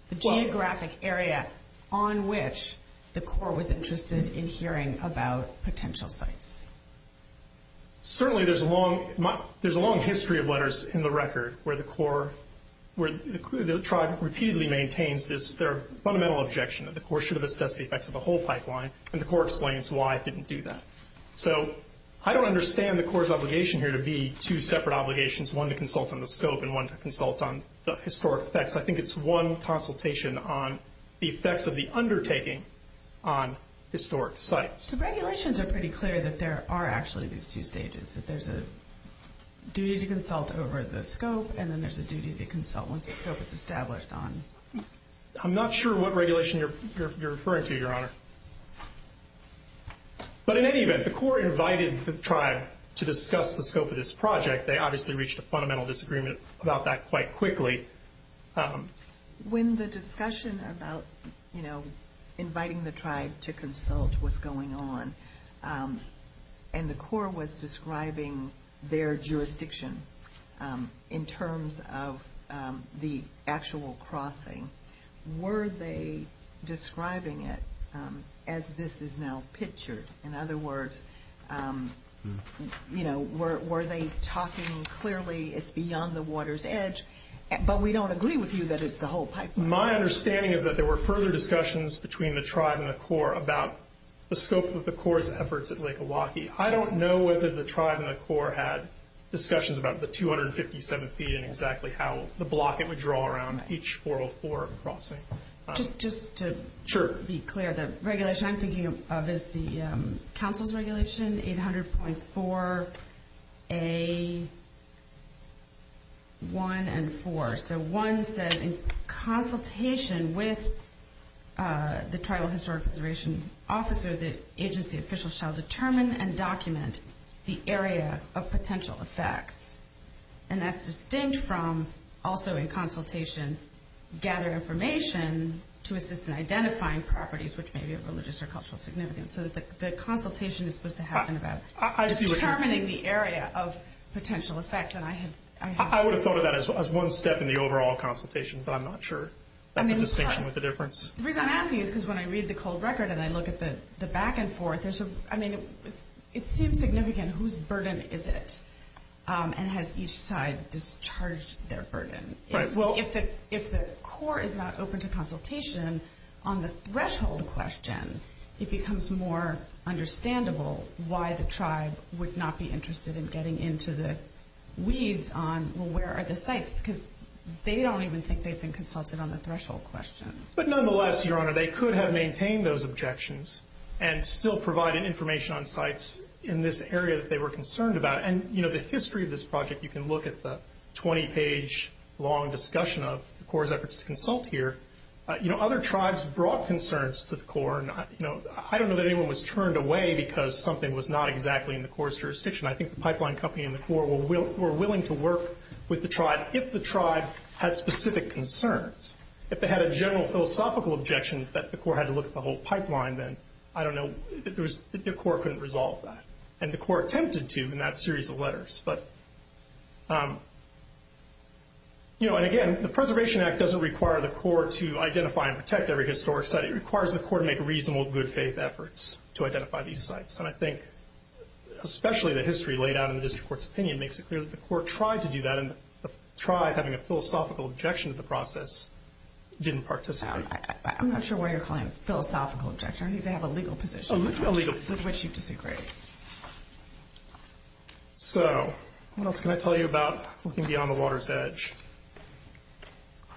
the geographic area on which the court was interested in hearing about potential sites? Certainly, there's a long history of letters in the record where the court, where the tribe repeatedly maintains their fundamental objection that the court should have assessed the effects of the whole pipeline. And the court explains why it didn't do that. So I don't understand the court's obligation here to be two separate obligations, one to consult on the scope and one to consult on the historic effects. I think it's one consultation on the effects of the undertaking on historic sites. So regulations are pretty clear that there are actually these two stages, that there's a duty to consult when the scope is established on. I'm not sure what regulation you're referring to, Your Honor. But in any event, the court invited the tribe to discuss the scope of this project. They obviously reached a fundamental disagreement about that quite quickly. When the discussion about, you know, inviting the tribe to consult what's going on, and the court was describing their jurisdiction in terms of the actual crossing. Were they describing it as this is now pictured? In other words, you know, were they talking clearly it's beyond the water's edge? But we don't agree with you that it's the whole pipeline. My understanding is that there were further discussions between the tribe and the court about the scope of the court's efforts at Lake Milwaukee. I don't know whether the tribe and the court had discussions about the 257 feet and exactly how the block it would draw around each 404 crossing. Just to be clear, the regulation I'm thinking of is the council's regulation, 800.4A1 and 4. So 1 says in consultation with the Tribal Historic Preservation Officer, the agency official shall determine and document the area of potential effects. And that's distinct from also in consultation gather information to assist in identifying properties which may be of religious or cultural significance. So the consultation is supposed to happen about determining the area of potential effects. I would have thought of that as one step in the overall consultation, but I'm not sure that the distinction was the difference. The reason I'm asking is because when I read the cold record and I look at the back and forth, it seems significant whose burden is it and has each side discharged their burden. If the court is not open to consultation on the threshold question, it becomes more understandable why the tribe would not be interested in getting into the weeds on where are the sites because they don't even think they've been consulted on the threshold question. But nonetheless, Your Honor, they could have maintained those objections and still provided information on sites in this area that they were concerned about. And, you know, the history of this project, you can look at the 20-page long discussion of the Corps' efforts to consult here. You know, other tribes brought concerns to the Corps. And, you know, I don't know that anyone was turned away because something was not exactly in the Corps' jurisdiction. I think the pipeline company and the Corps were willing to work with the tribe if the philosophical objections that the Corps had to look at the whole pipeline, then, I don't know, the Corps couldn't resolve that. And the Corps attempted to in that series of letters. But, you know, and again, the Preservation Act doesn't require the Corps to identify and protect every historic site. It requires the Corps to make reasonable good faith efforts to identify these sites. And I think especially the history laid out in the district court's opinion makes it clear that the Corps tried to do that and tried having a philosophical objection to the process. It didn't participate. I'm not sure why you're calling it a philosophical objection. I think they have a legal position. A legal position. Which you disagree. So what else can I tell you about looking beyond the water's edge?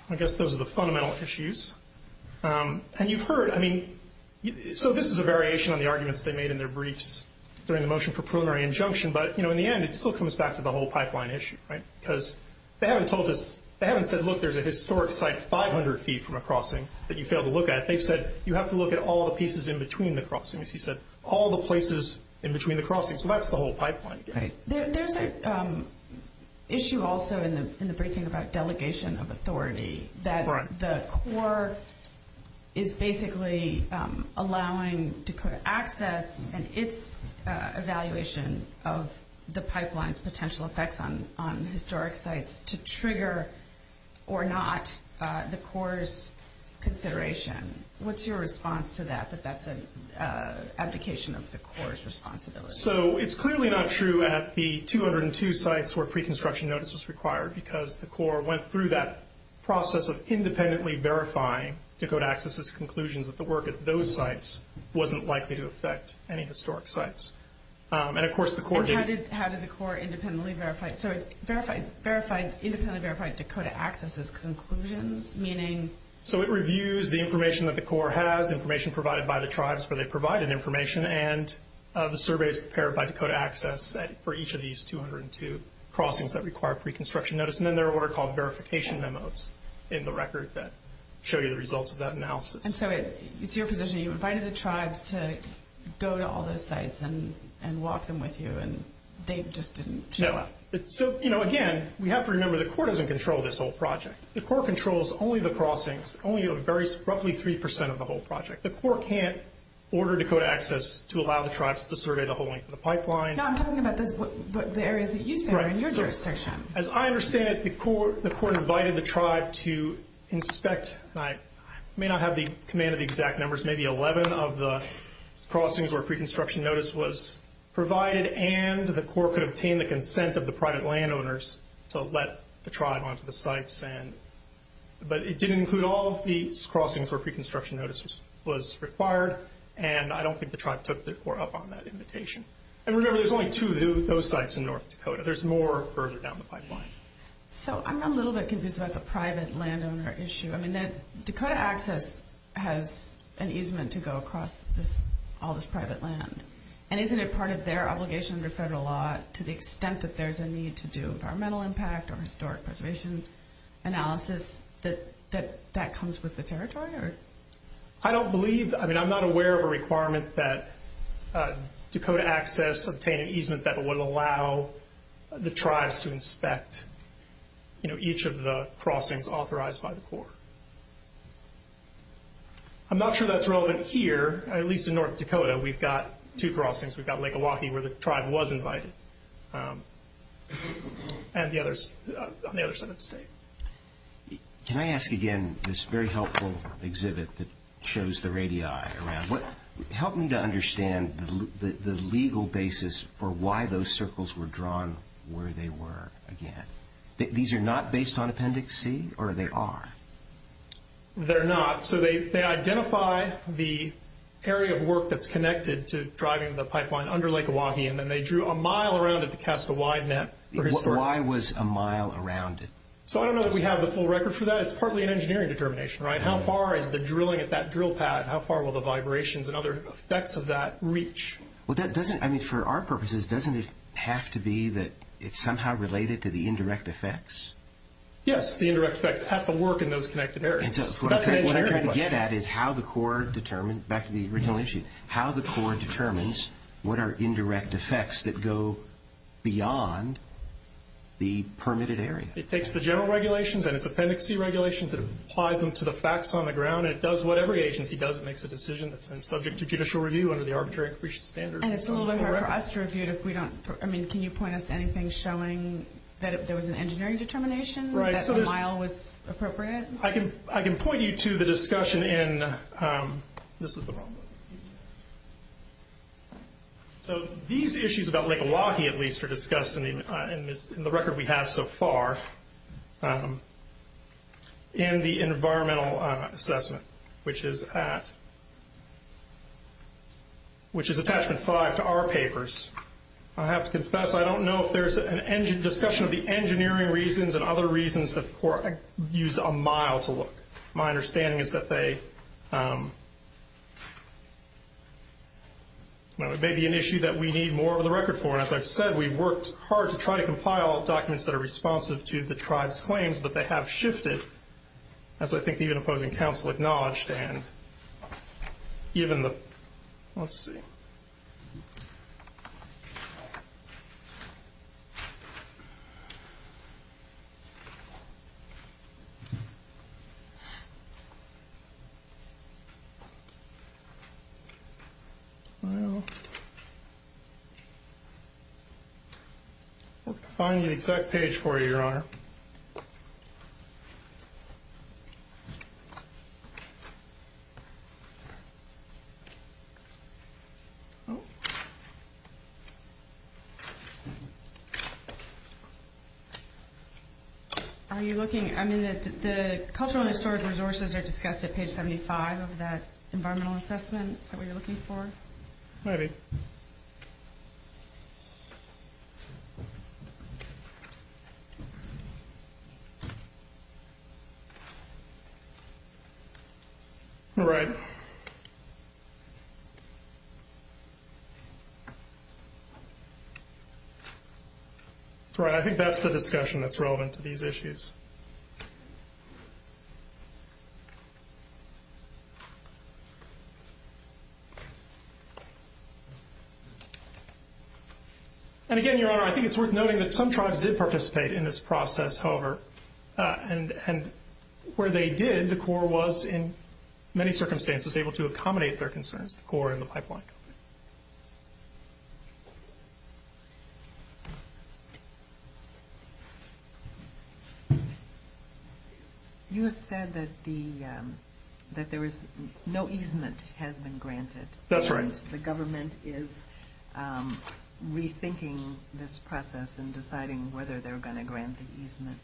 I guess those are the fundamental issues. And you've heard, I mean, so this is a variation on the arguments they made in their briefs during the motion for preliminary injunction. But, you know, in the end, it still comes back to the whole pipeline issue, right? Because they haven't told us, they haven't said, look, there's a historic site 500 feet from a crossing that you failed to look at. They said, you have to look at all the pieces in between the crossings. He said, all the places in between the crossings. So that's the whole pipeline. There's an issue also in the briefing about delegation of authority. That the Corps is basically allowing Dakota Access and its evaluation of the pipeline's potential effects on historic sites to trigger or not the Corps' consideration. What's your response to that, that that's an abdication of the Corps' responsibility? So it's clearly not true at the 202 sites where pre-construction notice was required because the Corps went through that process of independently verifying Dakota Access' conclusions that the work at those sites wasn't likely to affect any historic sites. And how did the Corps independently verify? So it verified, independently verified Dakota Access' conclusions, meaning? So it reviews the information that the Corps has, information provided by the tribes where they provided information, and the surveys prepared by Dakota Access for each of these 202 crossings that require pre-construction notice. And then there are what are called verification memos in the record that show you the results of that analysis. And so it's your position, you invited the tribes to go to all those sites and walk them with you, and they just didn't show up? No. So, you know, again, we have to remember the Corps doesn't control this whole project. The Corps controls only the crossings, only roughly 3% of the whole project. The Corps can't order Dakota Access to allow the tribes to survey the whole length of the pipeline. No, I'm talking about the areas that you surveyed in your jurisdiction. As I understand it, the Corps invited the tribe to inspect, and I may not have the command of the exact numbers, maybe 11 of the crossings where pre-construction notice was provided, and the Corps could obtain the consent of the private landowners to let the tribe onto the sites. But it did include all the crossings where pre-construction notice was required, and I don't think the tribe took the Corps up on that invitation. And remember, there's only two of those sites in North Dakota. There's more further down the pipeline. So, I'm a little bit confused about the private landowner issue. I mean, Dakota Access has an easement to go across all this private land, and isn't it part of their obligation under federal law to the extent that there's a need to do environmental impact or historic preservation analysis, that that comes with the territory? I don't believe, I mean, I'm not aware of a requirement that Dakota Access obtain an agreement that would allow the tribes to inspect, you know, each of the crossings authorized by the Corps. I'm not sure that's relevant here, at least in North Dakota. We've got two crossings. We've got Lake Milwaukee, where the tribe was invited, and the others on the other side of the state. Can I ask again, this very helpful exhibit that shows the radii around, help me to understand the legal basis for why those circles were drawn where they were again. These are not based on Appendix C, or they are? They're not. So, they identify the area of work that's connected to driving the pipeline under Lake Milwaukee, and then they drew a mile around it to cast a wide net. Why was a mile around it? So, I don't know that we have the full record for that. It's probably an engineering determination, right? How far has the drilling at that drill pad, how far will the vibrations and other effects of that reach? Well, that doesn't, I mean, for our purposes, doesn't it have to be that it's somehow related to the indirect effects? Yes, the indirect effects have to work in those connected areas. It does. What I'm trying to get at is how the Corps determines, back to the original issue, how the Corps determines what are indirect effects that go beyond the permitted area. It takes the general regulations and its Appendix C regulations and applies them to the facts on the ground, and it does what every agency does. It makes a decision that's subject to judicial review under the Arbitrary Accretion Standards. And it's a little bit more cross-reviewed if we don't, I mean, can you point us to anything showing that there was an engineering determination, that a mile was appropriate? I can point you to the discussion in, this is the one. So, these issues about Lake Milwaukee, at least, are discussed in the record we have so far in the environmental assessment, which is Attachment 5 to our papers. I have to confess, I don't know if there's a discussion of the engineering reasons and other reasons the Corps used a mile to look. My understanding is that they, well, it may be an issue that we need more of the record for. And as I've said, we worked hard to try to compile documents that are responsive to the tribe's claims, but they have shifted, as I think even opposing counsel acknowledged, and given the, let's see. Let's find the exact page for you, Your Honor. Are you looking, I mean, the cultural and historic resources are discussed at page 75 of the environmental assessment that we're looking for? Maybe. All right. Right, I think that's the discussion that's relevant to these issues. And again, Your Honor, I think it's worth noting that some tribes did participate in this process, however, and where they did, the Corps was, in many circumstances, able to accommodate their concerns, the Corps and the pipeline. You have said that the, that there is no easement has been granted. That's right. The government is rethinking this process and deciding whether they're going to grant the easement.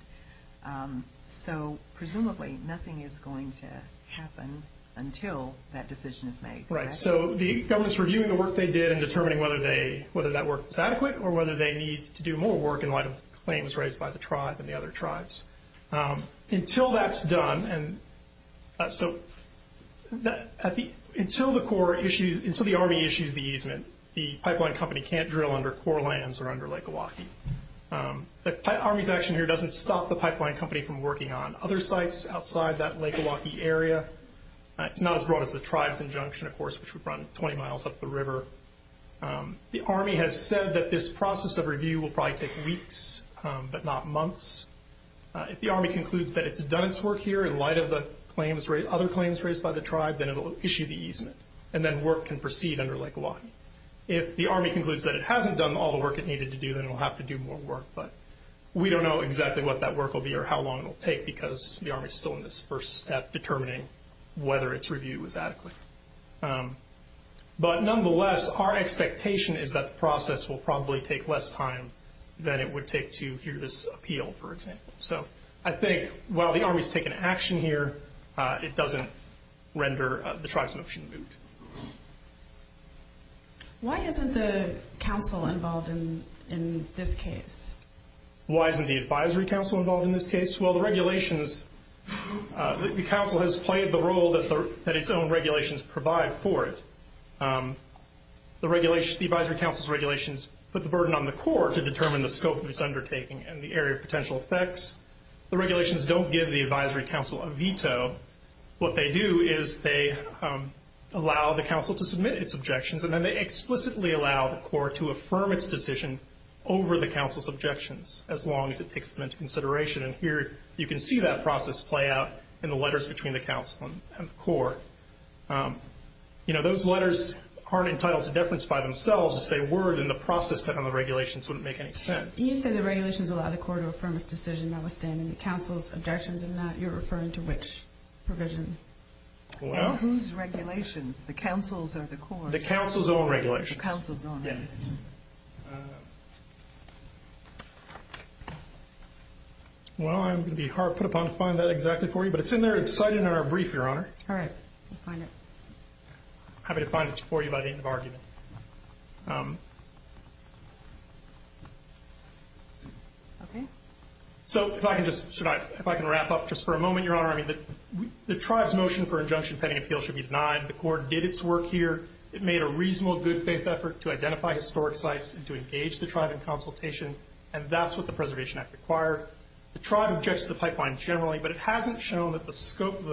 So, presumably, nothing is going to happen until that decision is made. Right. So, the government's reviewing the work they did and determining whether they, whether that work is adequate or whether they need to do more work in light of claims raised by the tribe and the other tribes. Until that's done, and so, until the Corps issues, until the Army issues the easement, the pipeline company can't drill under core lands or under Lake Milwaukee. The Army's action here doesn't stop the pipeline company from working on other sites outside that Lake Milwaukee area, not as broad as the tribe conjunction, of course, which would run 20 miles up the river. The Army has said that this process of review will probably take weeks, but not months. If the Army concludes that it's done its work here in light of the claims, other claims raised by the tribe, then it'll issue the easement and then work can proceed under Lake Milwaukee. If the Army concludes that it hasn't done all the work it needed to do, then it'll have to do more work, but we don't know exactly what that work will be or how long it'll take because the Army's still in this first step determining whether its review is adequate. But nonetheless, our expectation is that the process will probably take less time than it would take to view this appeal, for example. So, I think while the Army's taking action here, it doesn't render the tribe's motion moot. Why isn't the council involved in this case? Why isn't the advisory council involved in this case? Well, the council has played the role that its own regulations provide for it. The advisory council's regulations put the burden on the court to determine the scope of its undertaking and the area of potential effects. The regulations don't give the advisory council a veto. What they do is they allow the council to submit its objections and then they explicitly allow the court to affirm its decision over the council's objections as long as it takes them into consideration. And here, you can see that process play out in the letters between the council and the court. You know, those letters aren't entitled to deference by themselves. If they were, then the process put on the regulations wouldn't make any sense. You said the regulations allow the court to affirm its decision notwithstanding the council's objections in that. You're referring to which provision? Well... Whose regulations? The council's or the court's? The council's own regulations. The council's own. Yes. Well, I'm going to be hard put upon to find that exactly for you, but it's in there. It's cited in our brief, Your Honor. All right. I'll find it. I'm happy to find it for you by the end of argument. Okay. So, if I can just... If I can wrap up just for a moment, Your Honor. I mean, the tribe's motion for injunction pending appeal should be denied. The court did its work here. It made a reasonable good faith effort to identify historic sites and to engage the tribe in consultation, and that's what the preservation act required. The tribe objects to the pipeline generally, but it hasn't shown that the scope of the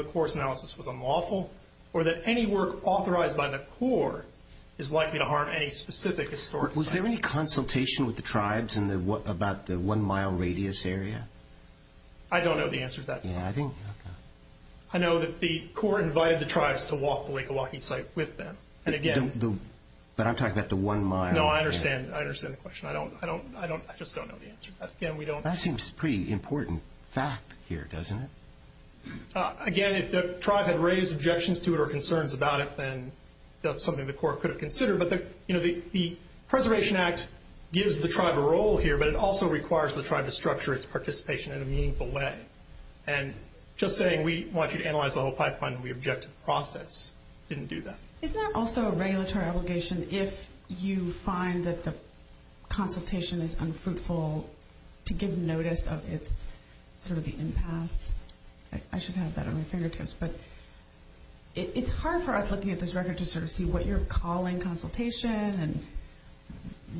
work authorized by the court is likely to harm any specific historic site. Was there any consultation with the tribes about the one-mile radius area? I don't know the answer to that. Yeah, I didn't... I know that the court invited the tribes to walk the Lake Oahe site with them. But again... But I'm talking about the one-mile... No, I understand. I understand the question. I just don't know the answer to that. Again, we don't... That seems a pretty important fact here, doesn't it? Again, if the tribe had raised objections to it or concerns about it, then that's something the court could consider. But, you know, the preservation act gives the tribe a role here, but it also requires the tribe to structure its participation in a meaningful way. And just saying, we want you to analyze the whole pipeline, and we object to the process, didn't do that. Isn't that also a regulatory obligation if you find that the consultation is unfruitful to give notice of sort of the impasse? I should have that on my finger tips. But it's hard for us looking at this record to sort of see what you're calling consultation and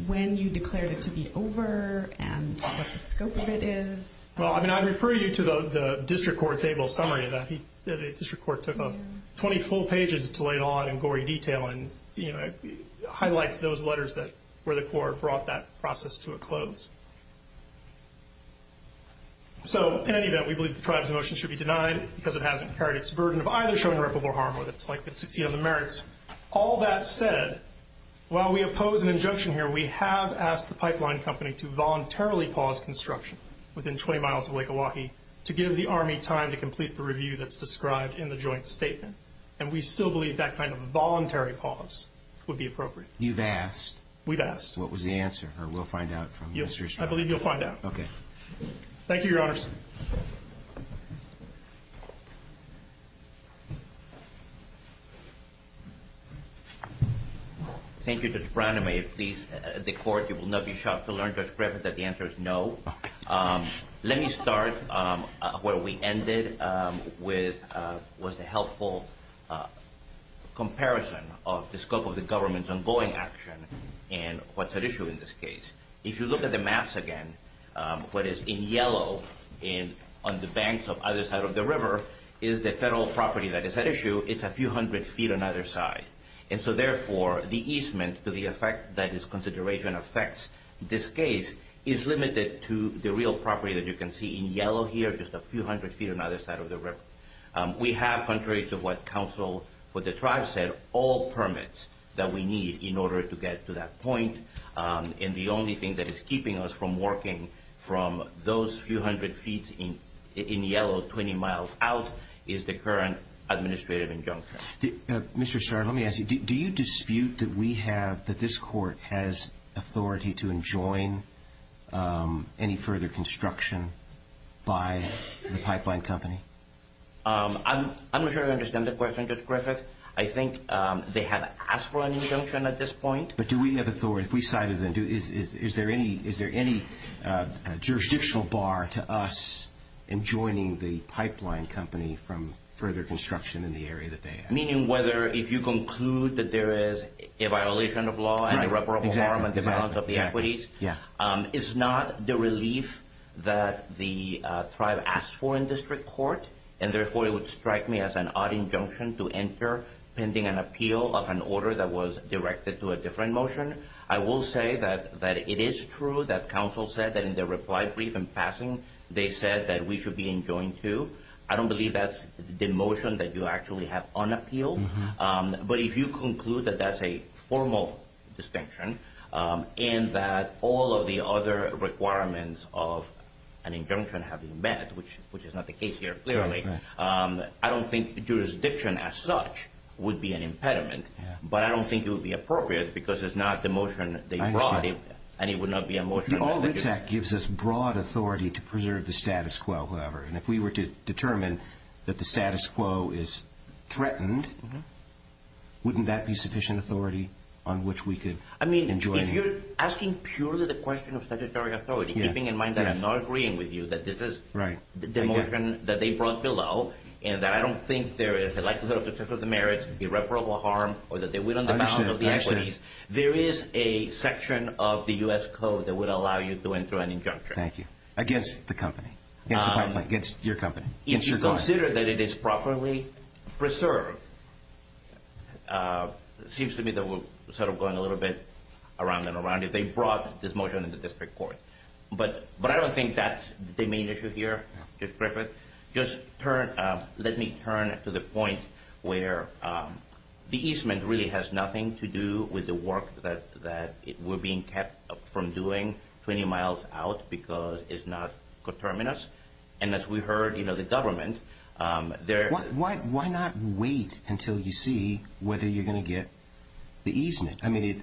when you declared it to be over and what the scope of it is. Well, I mean, I refer you to the district court table summary. The district court took 20 full pages to lay it all out in gory detail and, you know, highlight those letters where the court brought that process to a close. So, in any event, we believe the tribe's motion should be denied because it hasn't prepared its burden of either showing irreparable harm or the 60 other merits. All that said, while we oppose an injunction here, we have asked the pipeline company to voluntarily pause construction within 20 miles of Lake Milwaukee to give the Army time to complete the review that's described in the joint statement. And we still believe that kind of voluntary pause would be appropriate. You've asked? We've asked. What was the answer? Or we'll find out from the minister's side? Yes, I believe you'll find out. Okay. Thank you, Your Honor. Thank you, Judge Brown. And may it please the court, you will not be shocked to learn, Judge Griffith, that the answer is no. Let me start where we ended with what's a helpful comparison of the scope of the government's ongoing action and what's at issue in this case. If you look at the maps again, what is in yellow on the banks of either side of the river is the federal property that is at issue. It's a few hundred feet on either side. And so, therefore, the easement to the effect that this consideration affects this case is limited to the real property that you can see in yellow here, just a few hundred feet on either side of the river. We have, contrary to what counsel for the tribe said, all permits that we need in order to get to that point. And the only thing that is keeping us from working from those few hundred feet in yellow 20 miles out is the current administrative injunction. Mr. Starr, let me ask you, do you dispute that this court has authority to enjoin any further construction by the pipeline company? I'm not sure I understand the question, Judge Griffith. I think they have asked for an injunction at this point. But do we have authority? If we cited them, is there any jurisdictional bar to us enjoining the pipeline company from further construction in the area that they have? Meaning whether if you conclude that there is a violation of law and irreparable harm It's not the relief that the tribe asked for in this report. And therefore, it would strike me as an odd injunction to enter pending an appeal of an order that was directed to a different motion. I will say that it is true that counsel said that in the reply brief in passing, they said that we should be enjoined to. I don't believe that's the motion that you actually have on appeal. But if you conclude that that's a formal distinction, and that all of the other requirements of an injunction have been met, which is not the case here, clearly, I don't think jurisdiction as such would be an impediment. But I don't think it would be appropriate because it's not the motion that they brought in, and it would not be a motion. All this act gives us broad authority to preserve the status quo, however. And if we were to determine that the status quo is threatened, wouldn't that be sufficient authority on which we could enjoin it? I mean, if you're asking purely the question of statutory authority, keeping in mind that I'm not agreeing with you, that this is the motion that they brought below, and that I don't think there is a likelihood of the merits, irreparable harm, or that they went on the balance of the equities, there is a section of the U.S. Code that would allow you to enter an injunction. Thank you. Against the company. Against your company. If you consider that it is properly preserved, it seems to me that we're sort of going a little bit around and around. If they brought this motion in the district court. But I don't think that's the main issue here. Just briefly. Just let me turn to the point where the easement really has nothing to do with the work that we're being kept from doing 20 miles out because it's not determinist. And as we heard, you know, the government. Why not wait until you see whether you're going to get the easement? I mean,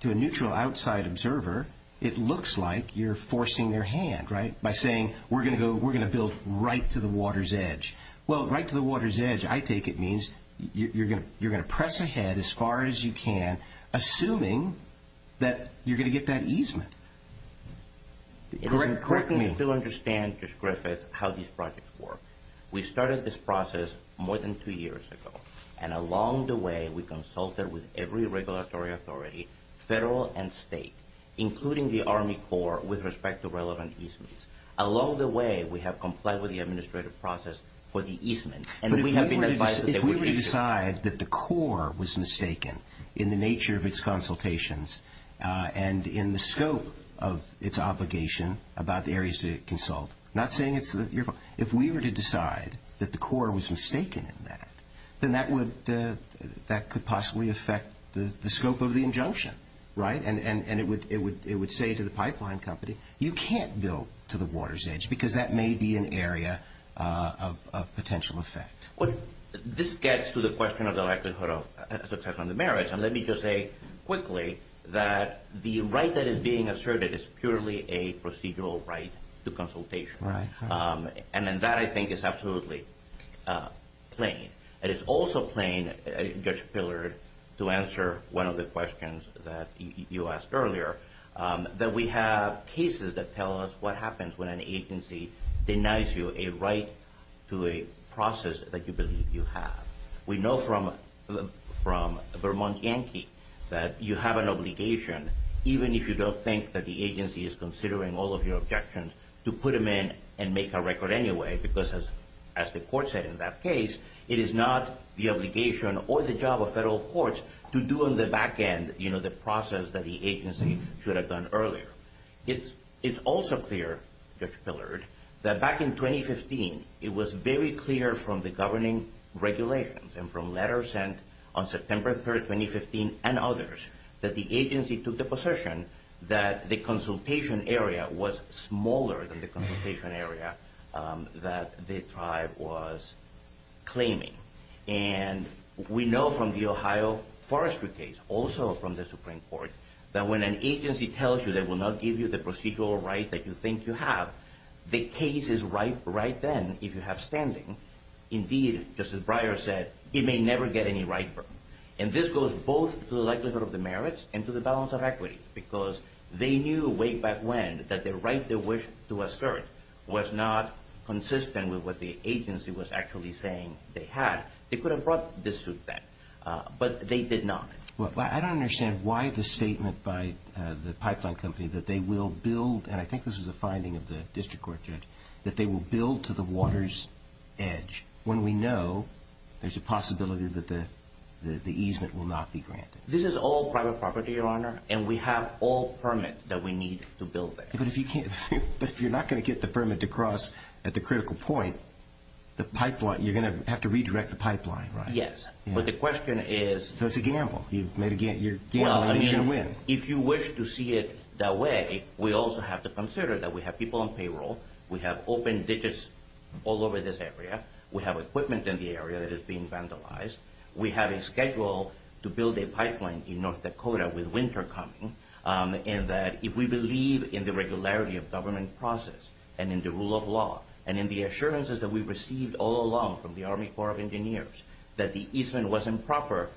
to a neutral outside observer, it looks like you're forcing their hand, right, by saying we're going to build right to the water's edge. Well, right to the water's edge, I take it means you're going to press ahead as far as you can, assuming that you're going to get that easement. Correct me if I'm wrong. Correct me if I'm wrong. I still understand, Judge Griffiths, how these projects work. We started this process more than two years ago. And along the way, we consulted with every regulatory authority, federal and state, including the Army Corps, with respect to relevant easements. Along the way, we have complied with the administrative process for the easement. But if we were to decide that the Corps was mistaken in the nature of its consultations and in the scope of its obligation about the areas to consult, not saying it's your fault, if we were to decide that the Corps was mistaken in that, then that could possibly affect the scope of the injunction, right? And it would say to the pipeline company, you can't build to the water's edge because that may be an area of potential effect. This gets to the question of the likelihood of success on the merits. And let me just say quickly that the right that is being asserted is purely a procedural right to consultation. And that, I think, is absolutely plain. It is also plain, Judge Pillard, to answer one of the questions that you asked earlier, that we have cases that tell us what happens when an agency denies you a right to a process that you believe you have. We know from Vermont Yankee that you have an obligation, even if you don't think that the agency is considering all of your objections, to put them in and make a record anyway. Because as the court said in that case, it is not the obligation or the job of federal courts to do on the back end, you know, the process that the agency should have done earlier. It's also clear, Judge Pillard, that back in 2015, it was very clear from the governing regulations and from letters sent on September 3rd, 2015, and others, that the agency took the position that the consultation area was smaller than the consultation area that the tribe was claiming. And we know from the Ohio Forestry case, also from the Supreme Court, that when an agency tells you they will not give you the procedural rights that you think you have, the case is ripe right then, if you have standing. Indeed, as Justice Breyer said, it may never get any riper. And this goes both to the likelihood of demerits and to the balance of equity. Because they knew way back when that the right they wished to assert was not consistent with what the agency was actually saying they had, they could have brought this to effect. But they did not. Well, I don't understand why the statement by the pipeline company that they will build, and I think this is a finding of the district court judge, that they will build to the water's edge, when we know there's a possibility that the easement will not be granted. This is all private property, Your Honor, and we have all permits that we need to build that. But if you're not going to get the permit to cross at the critical point, you're going to have to redirect the pipeline, right? Yes. But the question is... That's a gamble. You've made a gamble. If you wish to see it that way, we also have to consider that we have people on payroll. We have open ditches all over this area. We have equipment in the area that is being vandalized. We have it scheduled to build a pipeline in North Dakota with winter coming. If we believe in the regularity of government process and in the rule of law and in the assurances that we received all along from the Army Corps of Engineers that the easement was improper,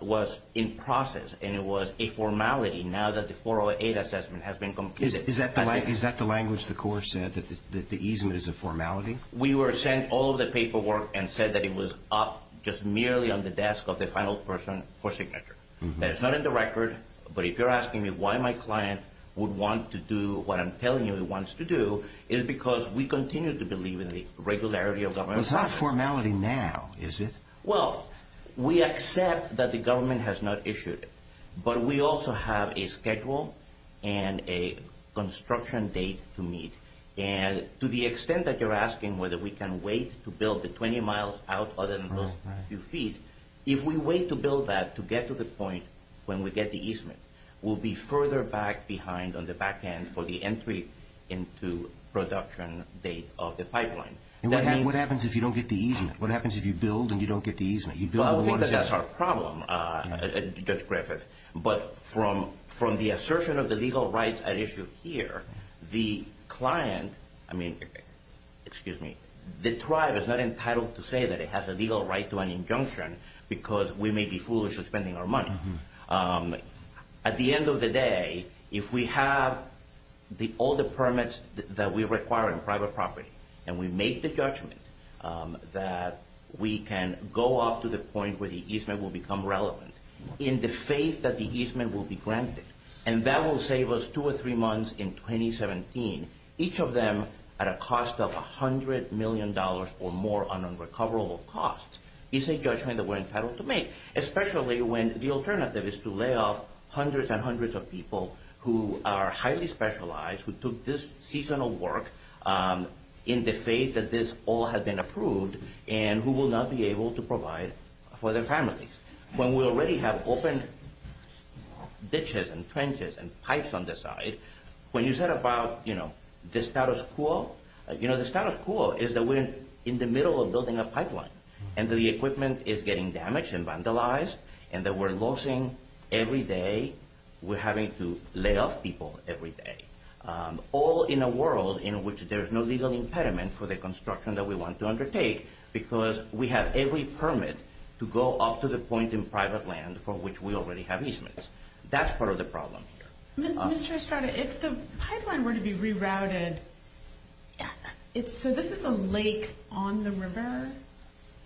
was in process, and it was a formality now that the 408 assessment has been completed... Is that the language the Corps said, that the easement is a formality? We were sent all of the paperwork and said that it was up just merely on the desk of the final person for signature. It's not in the record, but if you're asking me why my client would want to do what I'm telling him he wants to do, it's because we continue to believe in the regularity of government. It's not formality now, is it? Well, we accept that the government has not issued it, but we also have a schedule and a construction date to meet. And to the extent that you're asking whether we can wait to build the 20 miles out other If we wait to build that to get to the point when we get the easement, we'll be further back behind on the back end for the entry into production date of the pipeline. What happens if you don't get the easement? What happens if you build and you don't get the easement? Well, that's our problem, Judge Griffith. But from the assertion of the legal rights at issue here, the client... has a legal right to an injunction because we may be foolish in spending our money. At the end of the day, if we have all the permits that we require in private property and we make the judgment that we can go off to the point where the easement will become relevant in the faith that the easement will be granted, and that will save us two or three It's a judgment that we're entitled to make, especially when the alternative is to lay off hundreds and hundreds of people who are highly specialized, who took this seasonal work in the faith that this all has been approved and who will not be able to provide for their families. When we already have open ditches and trenches and pipes on the side, when you said about the status quo, the status quo is that we're in the middle of building a pipeline and the equipment is getting damaged and vandalized and that we're losing every day. We're having to lay off people every day. All in a world in which there is no legal impediment for the construction that we want to undertake because we have every permit to go off to the point in private land for which we already have easements. That's part of the problem. Mr. Estrada, if the pipeline were to be rerouted, so this is a lake on the river,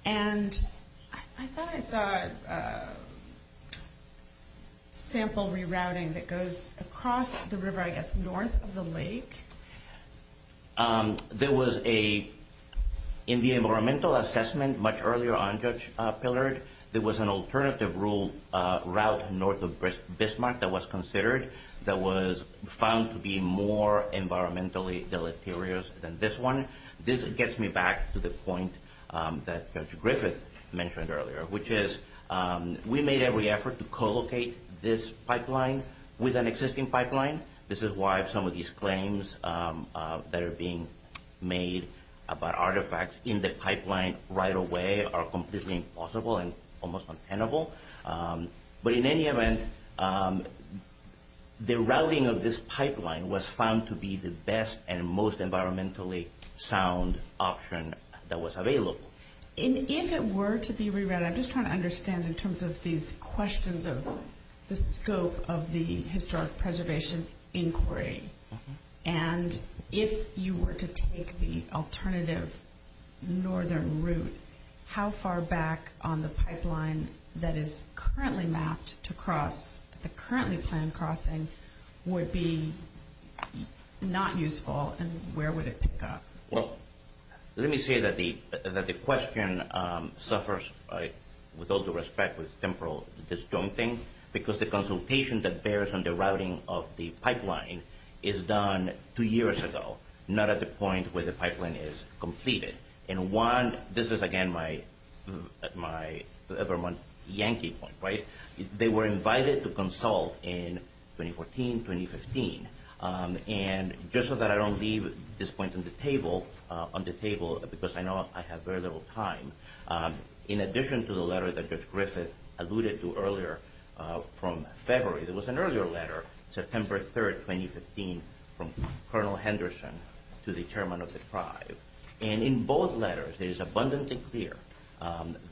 and I thought I saw a sample rerouting that goes across the river, I guess north of the lake. There was a environmental assessment much earlier on, Judge Pillard. There was an alternative route north of Bismarck that was considered, that was found to be more environmentally deleterious than this one. This gets me back to the point that Judge Griffith mentioned earlier, which is we made every effort to co-locate this pipeline with an existing pipeline. This is why some of these claims that are being made about artifacts in the pipeline right away are completely impossible and almost untenable. In any event, the routing of this pipeline was found to be the best and most environmentally sound option that was available. If it were to be rerouted, I'm just trying to understand in terms of these questions of the scope of the Historic Preservation Inquiry. If you were to take the alternative northern route, how far back on the pipeline that is currently mapped to cross the currently planned crossing would be not useful and where would it pick up? Let me say that the question suffers, with all due respect, with temporal disjointing because the consultation that bears on the routing of the pipeline is done two years ago, not at the point where the pipeline is completed. One, this is again my Evermont Yankee point. They were invited to consult in 2014, 2015. Just so that I don't leave this point on the table because I know I have very little time, in addition to the letter that Judge Griffith alluded to earlier from February, there was an earlier letter, September 3rd, 2015, from Colonel Henderson to the chairman of the tribe. In both letters, it is abundantly clear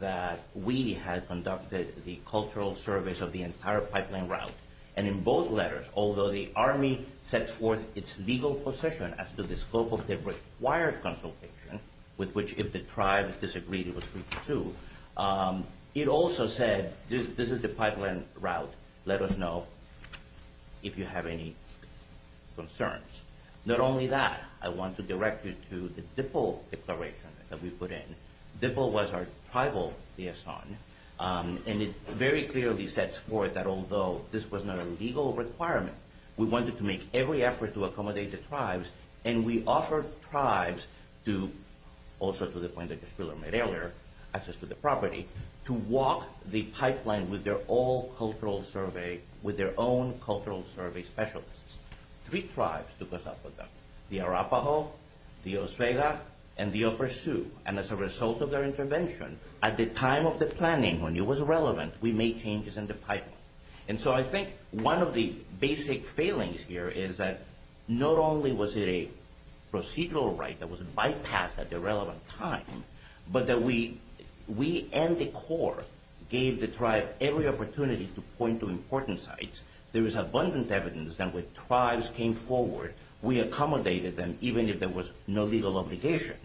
that we have conducted the cultural service of the entire pipeline route. In both letters, although the Army sets forth its legal position as to the scope of the required consultation, with which if the tribe disagreed, it was free to do, it also said this is the pipeline route. Let us know if you have any concerns. Not only that, I want to direct you to the DIPL declaration that we put in. DIPL was our tribal liaison. It very clearly sets forth that although this was not a legal requirement, we wanted to make every effort to accommodate the tribes, and we offered tribes to, also to the point that Judge Wheeler made earlier, access to the property, to walk the pipeline with their own cultural survey specialists. Three tribes took us up on that. The Arapaho, the Oswego, and the Upper Sioux. As a result of their intervention, at the time of the planning, when it was relevant, we made changes in the pipeline. I think one of the basic failings here is that not only was it a procedural right that was bypassed at the relevant time, but that we and the Corps gave the tribe every opportunity to point to important sites. There was abundant evidence that when tribes came forward, we accommodated them, even if there was no legal obligation.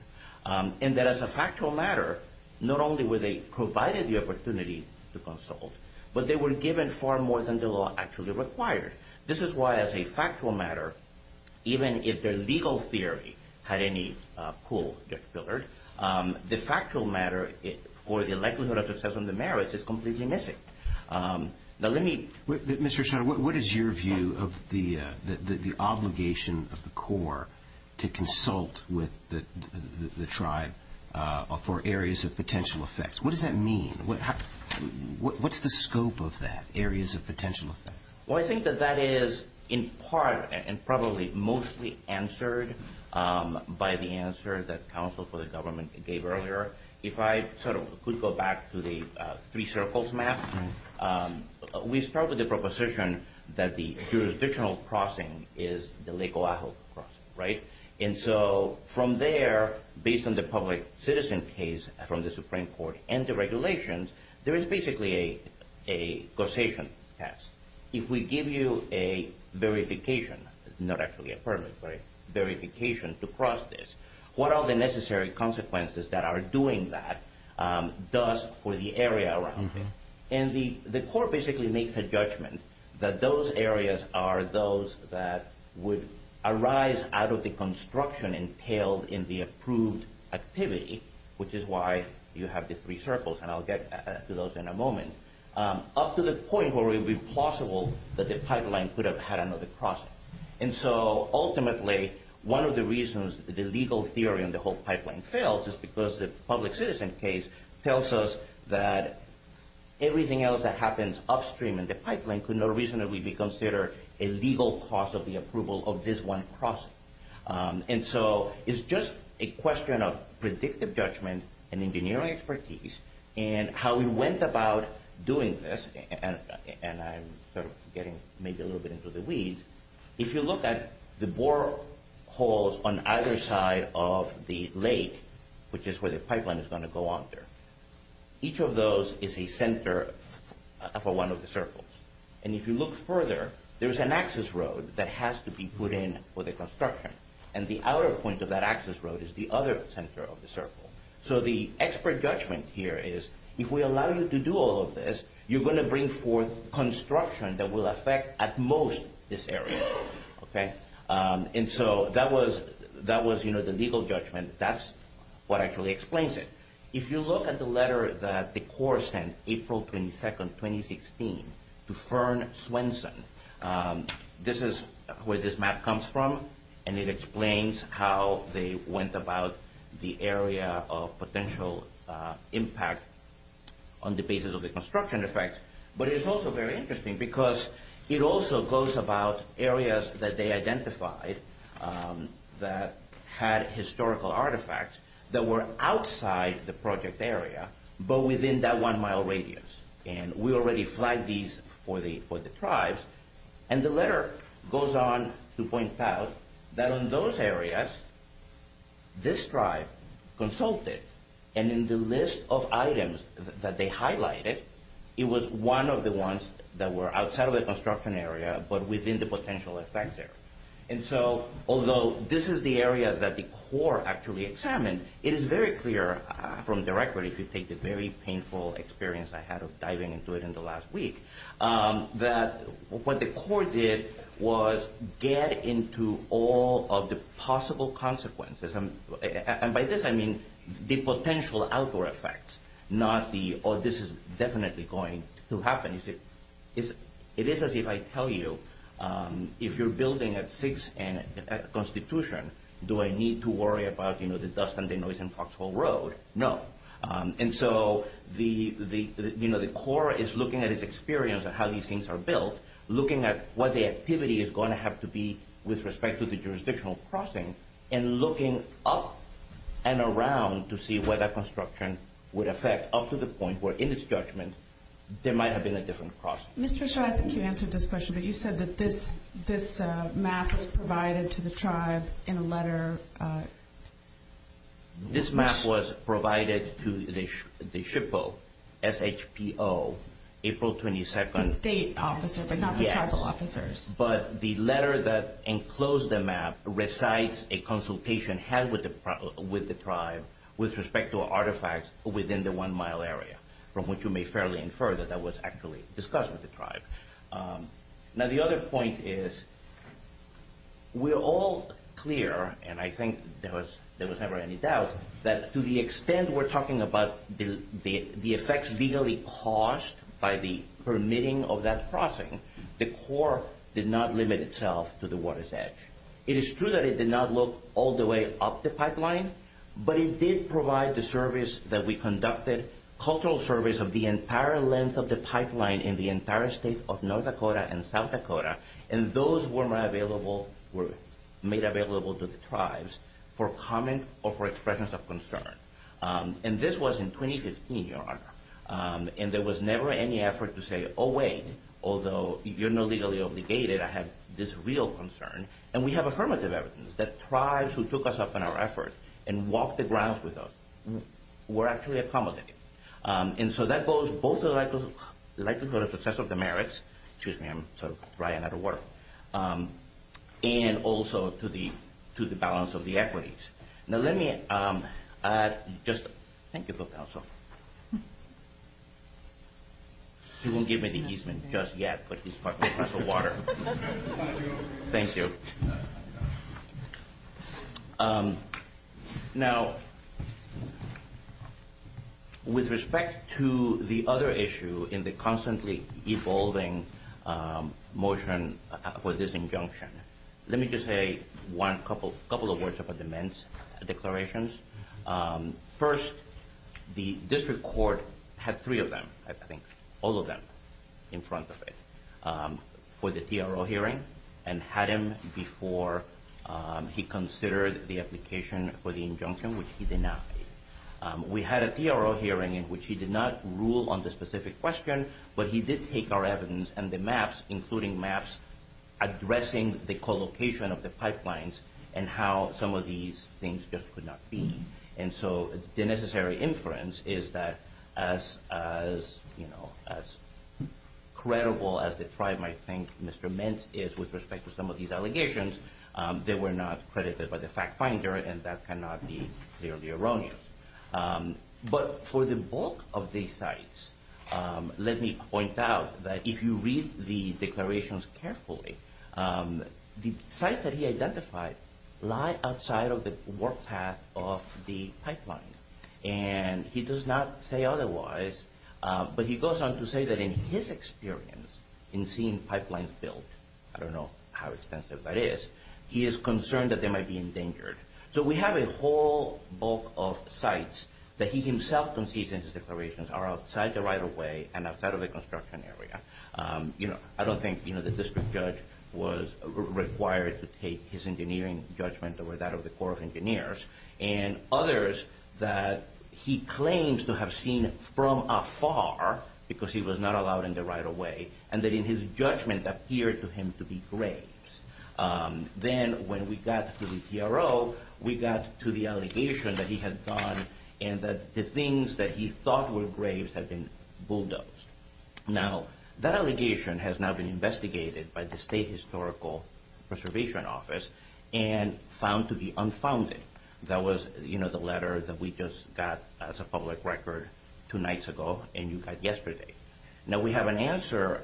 As a factual matter, not only were they provided the opportunity to consult, but they were given far more than the law actually required. This is why, as a factual matter, even if their legal theory had any pull, Judge Wheeler, the factual matter, or the likelihood of success on the merits, is completely missing. Now, let me... Mr. Oshawa, what is your view of the obligation of the Corps to consult with the tribe for areas of potential effects? What does that mean? What's the scope of that, areas of potential effect? Well, I think that that is, in part, and probably mostly answered by the answer that counsel for the government gave earlier. If I sort of could go back to the three circles map, we start with the proposition that the jurisdictional crossing is the Lake O'ahu cross, right? From there, based on the public citizen case from the Supreme Court and the regulations, there is basically a causation test. If we give you a verification, not actually a permit, but a verification to cross this, what are the necessary consequences that are doing that does for the area around you? The Corps basically makes a judgment that those areas are those that would arise out of the construction entailed in the approved activity, which is why you have the three circles, and I'll get to those in a moment, up to the point where it would be possible that the pipeline could have had another crossing. Ultimately, one of the reasons the legal theory on the whole pipeline fails is because the public citizen case tells us that everything else that happens upstream in the pipeline could not reasonably be considered a legal cause of the approval of this one crossing. It's just a question of predictive judgment and engineering expertise and how we went about doing this, and I'm sort of getting maybe a little bit into the weeds. If you look at the boreholes on either side of the lake, which is where the pipeline is going to go under, each of those is a center for one of the circles. If you look further, there's an access road that has to be put in for the construction, and the outer point of that access road is the other center of the circle. The expert judgment here is if we allow you to do all of this, you're going to bring forth construction that will affect at most this area. That was the legal judgment. That's what actually explains it. If you look at the letter that the Corps sent April 22, 2016, to Fern Swenson, this is where this map comes from, and it explains how they went about the area of potential impact on the basis of the construction effects. It's also very interesting because it also goes about areas that they identified that had historical artifacts that were outside the project area, but within that one mile radius. We already flagged these for the tribes. The letter goes on to point out that in those areas, this tribe consulted, and in the list of items that they highlighted, it was one of the ones that were outside of the construction area, but within the potential effect there. Although this is the area that the Corps actually examined, it is very clear from the record, if you take the very painful experience I had of diving into it in the last week, that what the Corps did was get into all of the possible consequences. By this, I mean the potential outdoor effects, not the, oh, this is definitely going to happen. It is as if I tell you, if you're building a fixed end constitution, do I need to worry about the dust and the noise and foxhole road? No. The Corps is looking at its experience of how these things are built, looking at what the activity is going to have to be with respect to the jurisdictional crossing, and looking up and around to see where that construction would affect up to the point where, in its judgment, there might have been a different process. Ms. Trichot, I think you answered this question, but you said that this map was provided to the tribe in a letter. This map was provided to the SHPO, S-H-P-O, April 22nd. Yes, but the letter that enclosed the map recites a consultation had with the tribe with respect to artifacts within the one-mile area, from which you may fairly infer that that was actually discussed with the tribe. Now, the other point is, we're all clear, and I think there was never any doubt, that to the extent we're talking about the effects legally caused by the permitting of that crossing, the Corps did not limit itself to the water's edge. It is true that it did not look all the way up the pipeline, but it did provide the service that we conducted, cultural service of the entire length of the pipeline in the entire state of North Dakota and South Dakota, and those were made available to the tribes for comment or for expression of concern. This was in 2015, Your Honor, and there was never any effort to say, oh wait, although you're not legally obligated, I have this real concern, and we have affirmative evidence that tribes who took us up in our effort and walked the ground with us were actually accommodated. That goes both to the likelihood of success of the merits, excuse me, I'm sort of writing and also to the balance of the equities. Now let me just, thank you for counsel. He didn't give me the easement just yet, but he's partaking of the water. Thank you. Now, with respect to the other issue in the constantly evolving motion for this injunction, let me just say a couple of words about the Mint's declarations. First, the district court had three of them, I think, all of them in front of it for the hearing before he considered the application for the injunction, which he denied. We had a DRO hearing in which he did not rule on the specific question, but he did take our evidence and the maps, including maps addressing the co-location of the pipelines and how some of these things just could not be. And so the necessary inference is that as credible as the tribe might think Mr. Mint is with respect to some of these allegations, they were not credited by the fact finder and that cannot be clearly erroneous. But for the bulk of these sites, let me point out that if you read the declarations carefully, the sites that he identified lie outside of the work path of the pipelines. And he does not say otherwise, but he goes on to say that in his experience in seeing the pipelines built, I don't know how expensive that is, he is concerned that they might be endangered. So we have a whole bulk of sites that he himself concedes in his declarations are outside the right of way and outside of the construction area. I don't think the district judge was required to take his engineering judgment over that of the Corps of Engineers and others that he claims to have seen from afar because he was not allowed in the right of way and that in his judgment appeared to him to be graves. Then when we got to the TRO, we got to the allegation that he had done and that the things that he thought were graves had been bulldozed. Now, that allegation has now been investigated by the State Historical Preservation Office and found to be unfounded. That was, you know, the letter that we just got as a public record two nights ago and you got yesterday. Now, we have an answer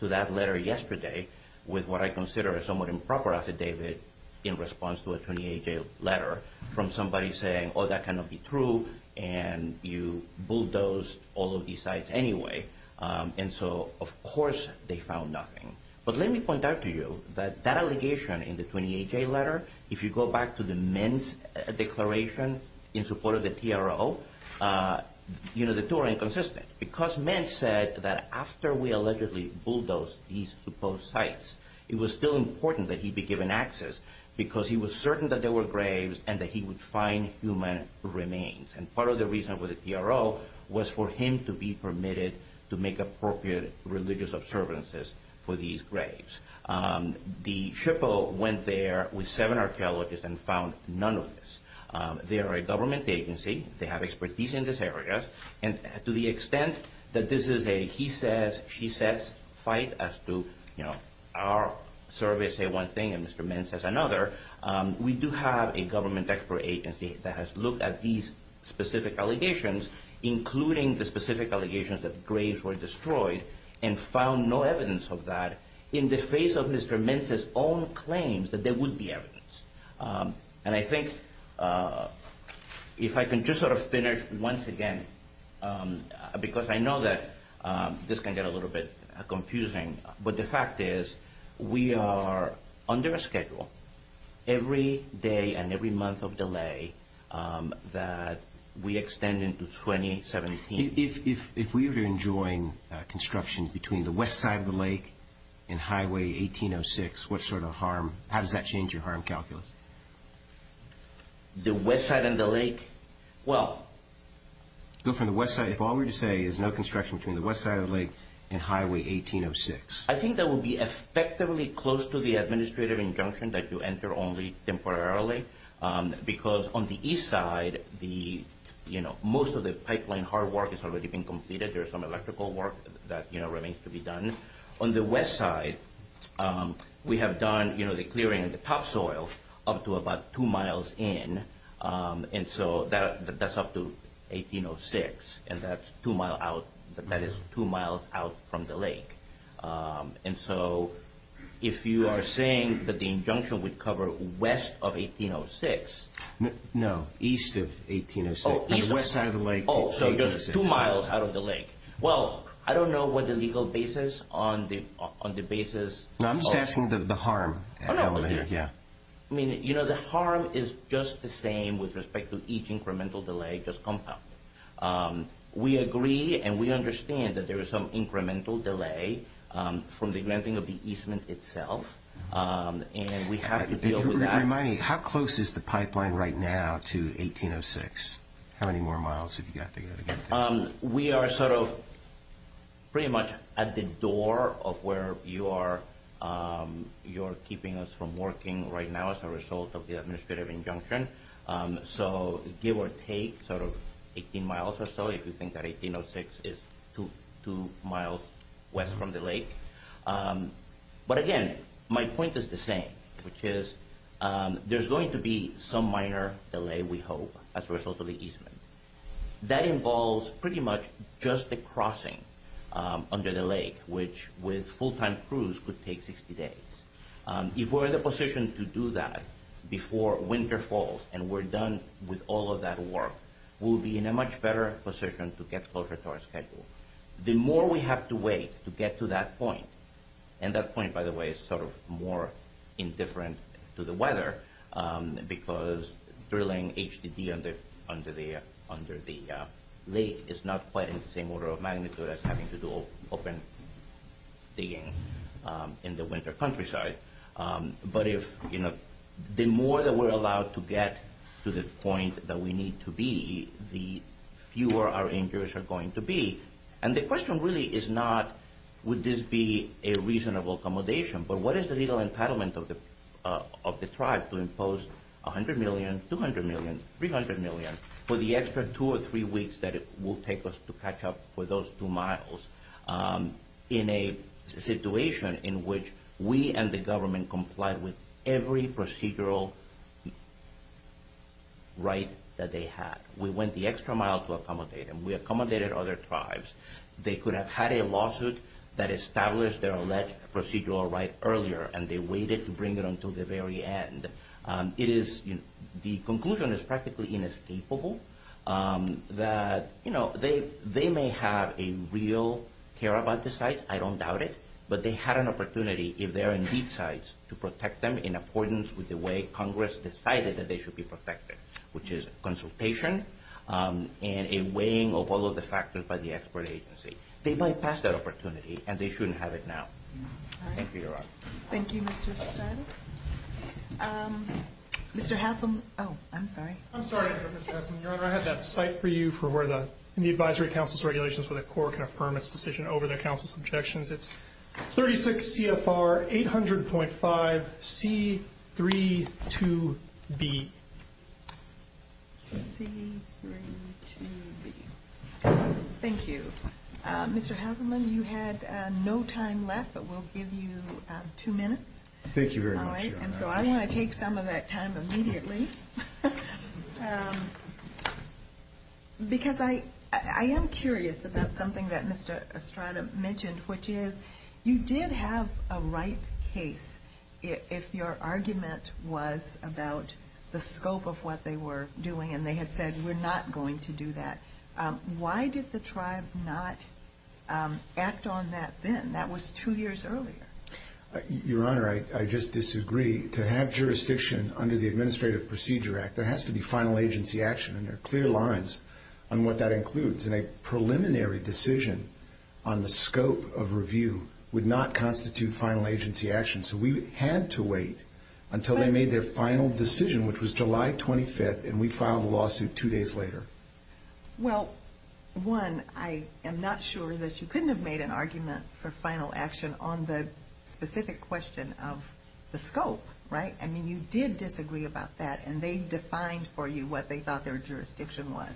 to that letter yesterday with what I consider a somewhat improper affidavit in response to a 28-day letter from somebody saying, oh, that cannot be true and you bulldozed all of these sites anyway. And so, of course, they found nothing. But let me point out to you that that allegation in the 28-day letter, if you go back to the Mint's declaration in support of the TRO, you know, the two are inconsistent because Mint said that after we allegedly bulldozed these proposed sites, it was still important that he be given access because he was certain that there were graves and that he would find human remains. And part of the reason for the TRO was for him to be permitted to make appropriate religious observances for these graves. The TRO went there with seven archaeologists and found none of this. They are a government agency. They have expertise in this area. And to the extent that this is a he says, she says fight as to, you know, our survey say one thing and Mr. Mint says another, we do have a government expert agency that has looked at these specific allegations, including the specific allegations that graves were found, no evidence of that in the face of Mr. Mint's own claims that there would be evidence. And I think if I can just sort of finish once again, because I know that this can get a little bit confusing, but the fact is we are under a schedule every day and every month of delay that we extend into 2017. If we were enjoying construction between the west side of the lake and highway 1806, what sort of harm, how does that change your harm calculus? The west side of the lake? Well. So from the west side, if all we say is no construction from the west side of the lake and highway 1806. I think that would be effectively close to the administrative injunction that you enter only temporarily, because on the east side, the, you know, most of the pipeline hard work has already been completed. There's some electrical work that, you know, remains to be done. On the west side, we have done, you know, the clearing in the topsoil up to about two miles in, and so that's up to 1806, and that's two miles out, that is two miles out from the lake. And so if you are saying that the injunction would cover west of 1806. No, east of 1806. Oh, east of 1806. The west side of the lake. Oh, so there's two miles out of the lake. Well, I don't know what the legal basis on the basis of. No, I'm just asking the harm element, yeah. I mean, you know, the harm is just the same with respect to each incremental delay just compounded. We agree, and we understand that there is some incremental delay from the granting of the easement itself, and we have to deal with that. Remind me, how close is the pipeline right now to 1806? How many more miles have you got to go to get there? We are sort of pretty much at the door of where you are keeping us from working right now as a result of the administrative injunction. So give or take sort of 18 miles or so if you think that 1806 is two miles west from the lake. But again, my point is the same, which is there's going to be some minor delay, we hope, as a result of the easement. That involves pretty much just the crossing under the lake, which with full-time crews could take 60 days. If we're in the position to do that before winter falls, and we're done with all of that work, we'll be in a much better position to get closer to our schedule. The more we have to wait to get to that point, and that point, by the way, is sort of more indifferent to the weather, because drilling HDD under the lake is not quite in the same order of magnitude as having to do open digging in the winter countryside. But the more that we're allowed to get to the point that we need to be, the fewer our injuries are going to be. And the question really is not would this be a reasonable accommodation, but what is the legal entitlement of the tribe to impose $100 million, $200 million, $300 million for the extra two or three weeks that it will take us to catch up with those two miles, in a situation in which we and the government complied with every procedural right that they had. We went the extra mile to accommodate them. We accommodated other tribes. They could have had a lawsuit that established their alleged procedural right earlier, and they waited to bring it until the very end. It is – the conclusion is practically inescapable that, you know, they may have a real care about the sites, I don't doubt it, but they had an opportunity if they're in weak sites to protect them in accordance with the way Congress decided that they should be protected, which is consultation and a weighing of all of the factors by the expert agency. They bypassed that opportunity, and they shouldn't have it now. Thank you, Your Honor. Thank you, Mr. Stattis. Mr. Hasselman – oh, I'm sorry. I'm sorry, Mr. Stasselman. Your Honor, I had that cite for you for where the advisory council's regulations for the court can affirm its decision over the council's objections. It's 36 CFR 800.5C32B. C32B. Thank you. Mr. Hasselman, you had no time left, but we'll give you two minutes. Thank you very much, Your Honor. All right? And so I want to take some of that time immediately because I am curious about something that Mr. Estrada mentioned, which is you did have a right case if your argument was about the scope of what they were doing, and they had said we're not going to do that. Why did the tribe not act on that then? That was two years earlier. Your Honor, I just disagree. To have jurisdiction under the Administrative Procedure Act, there has to be final agency action, and there are clear lines on what that includes. And a preliminary decision on the scope of review would not constitute final agency action. So we had to wait until they made their final decision, which was July 25th, and we filed a lawsuit two days later. Well, one, I am not sure that you couldn't have made an argument for final action on the specific question of the scope, right? I mean, you did disagree about that, and they defined for you what they thought their jurisdiction was.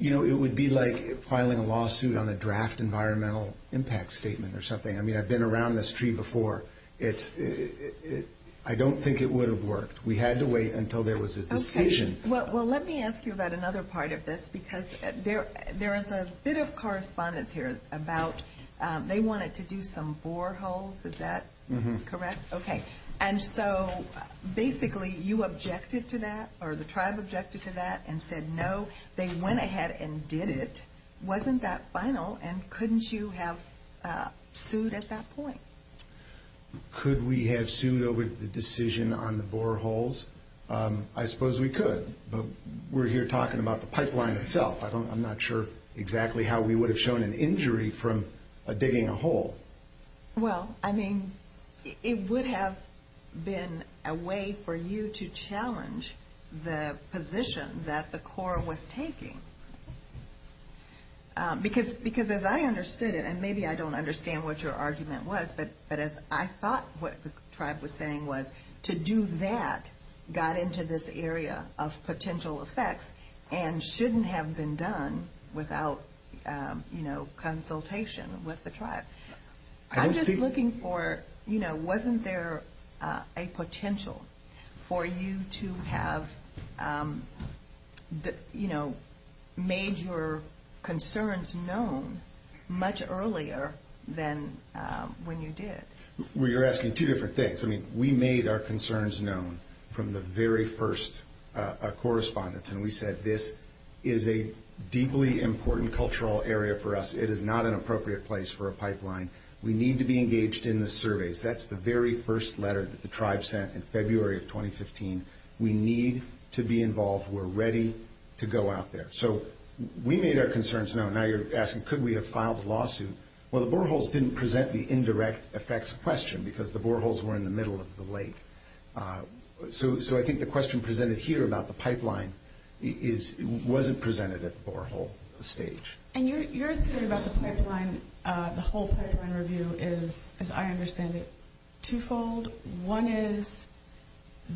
You know, it would be like filing a lawsuit on a draft environmental impact statement or something. I mean, I've been around this tree before. I don't think it would have worked. We had to wait until there was a decision. Okay. Well, let me ask you about another part of this, because there is a bit of correspondence here about they wanted to do some boreholes. Is that correct? Okay. And so basically, you objected to that, or the tribe objected to that and said, no, they went ahead and did it. Wasn't that final, and couldn't you have sued at that point? Could we have sued over the decision on the boreholes? I suppose we could, but we're here talking about the pipeline itself. I'm not sure exactly how we would have shown an injury from digging a hole. Well, I mean, it would have been a way for you to challenge the position that the Corps was taking, because as I understood it, and maybe I don't understand what your argument was, but as I thought what the tribe was saying was, to do that got into this area of potential effects and shouldn't have been done without consultation with the tribe. I'm just looking for, you know, wasn't there a potential for you to have made your point when you did? Well, you're asking two different things. I mean, we made our concerns known from the very first correspondence, and we said, this is a deeply important cultural area for us. It is not an appropriate place for a pipeline. We need to be engaged in the surveys. That's the very first letter that the tribe sent in February of 2015. We need to be involved. We're ready to go out there. So we made our concerns known. Now you're asking, could we have filed a lawsuit? Well, the boreholes didn't present the indirect effects question, because the boreholes were in the middle of the lake. So I think the question presented here about the pipeline wasn't presented at the borehole stage. And your theory about the pipeline, the whole pipeline review is, as I understand it, twofold. One is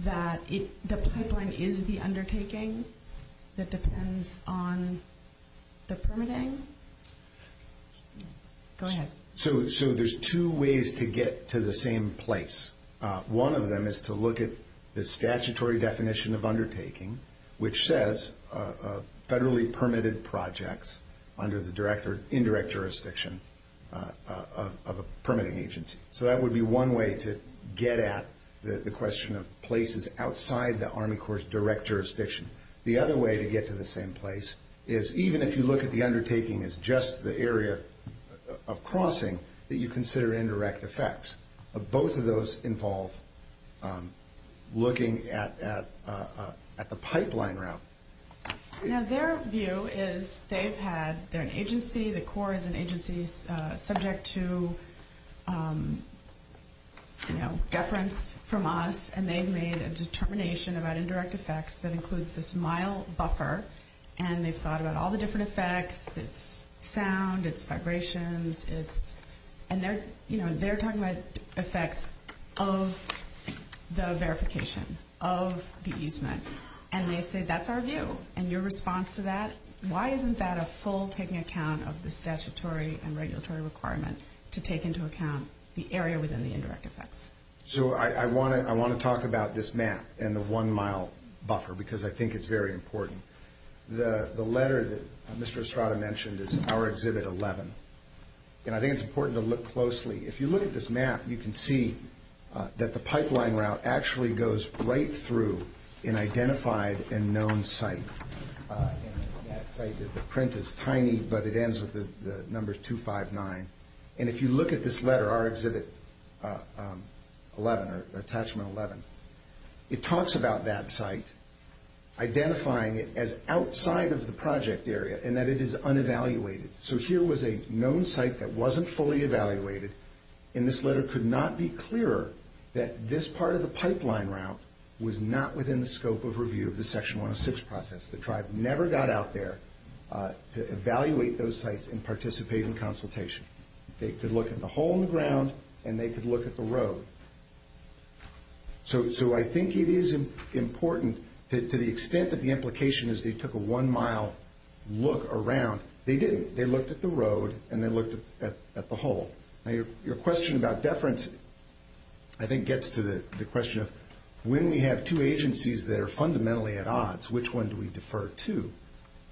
that the pipeline is the undertaking that depends on the permitting. Go ahead. So there's two ways to get to the same place. One of them is to look at the statutory definition of undertaking, which says federally permitted projects under the direct or indirect jurisdiction of a permitting agency. So that would be one way to get at the question of places outside the Army Corps' direct jurisdiction. The other way to get to the same place is, even if you look at the undertaking as just the area of crossing, that you consider indirect effects. But both of those involve looking at the pipeline route. Now, their view is they've had their agency, the Corps is an agency subject to, you know, deference from us. And they've made a determination about indirect effects that includes this mile buffer. And they've thought about all the different effects. It's sound, it's vibration, it's... And they're, you know, they're talking about effects of the verification, of the easement. And they say that's our view. And your response to that, why isn't that a full taking account of the statutory and regulatory requirements to take into account the area within the indirect effects? So I want to talk about this map and the one mile buffer because I think it's very important. The letter that Mr. Estrada mentioned is our Exhibit 11. And I think it's important to look closely. If you look at this map, you can see that the pipeline route actually goes right through an identified and known site. The print is tiny, but it ends with the numbers 259. And if you look at this letter, our Exhibit 11, Attachment 11, it talks about that site, identifying it as outside of the project area and that it is unevaluated. So here was a known site that wasn't fully evaluated. And this letter could not be clearer that this part of the pipeline route was not within the scope of review of the Section 106 process. The tribe never got out there to evaluate those sites and participate in consultation. They could look in the hole in the ground and they could look at the road. So I think it is important to the extent that the implication is they took a one mile look around. They didn't. They looked at the road and they looked at the hole. Your question about deference I think gets to the question of when we have two agencies that are fundamentally at odds, which one do we defer to?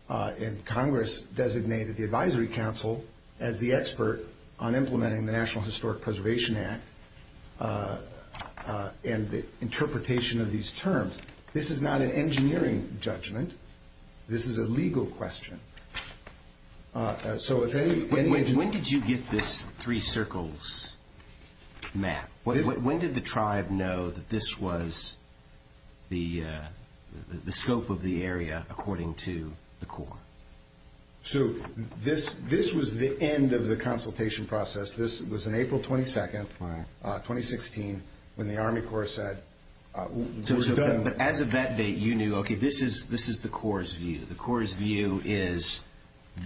And Congress designated the Advisory Council as the expert on implementing the National Historic Preservation Act and the interpretation of these terms. This is not an engineering judgment. This is a legal question. When did you get this three circles map? When did the tribe know that this was the scope of the area according to the Corps? This was the end of the consultation process. This was on April 22, 2016 when the Army Corps said it was done. As of that date, you knew this is the Corps' view. The Corps' view is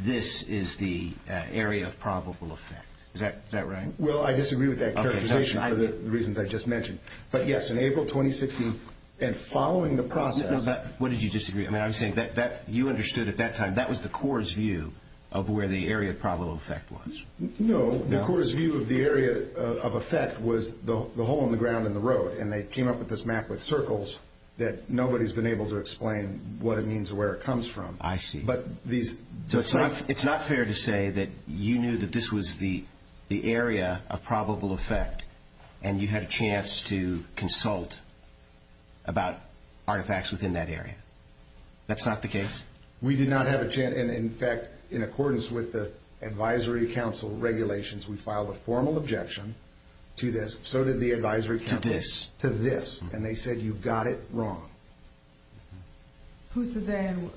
this is the area of probable effect. Is that right? I disagree with that clarification for the reasons I just mentioned. But yes, in April 2016 and following the process. What did you disagree? You understood at that time that was the Corps' view of where the area of probable effect was. No, the Corps' view of the area of effect was the hole in the ground and the road. And they came up with this map with circles that nobody's been able to explain what it means or where it comes from. I see. It's not fair to say that you knew that this was the area of probable effect and you had a chance to consult about artifacts within that area. That's not the case? We did not have a chance. In fact, in accordance with the Advisory Council regulations, we filed a formal objection to this. To this? To this. And they said you got it wrong. Who's the then?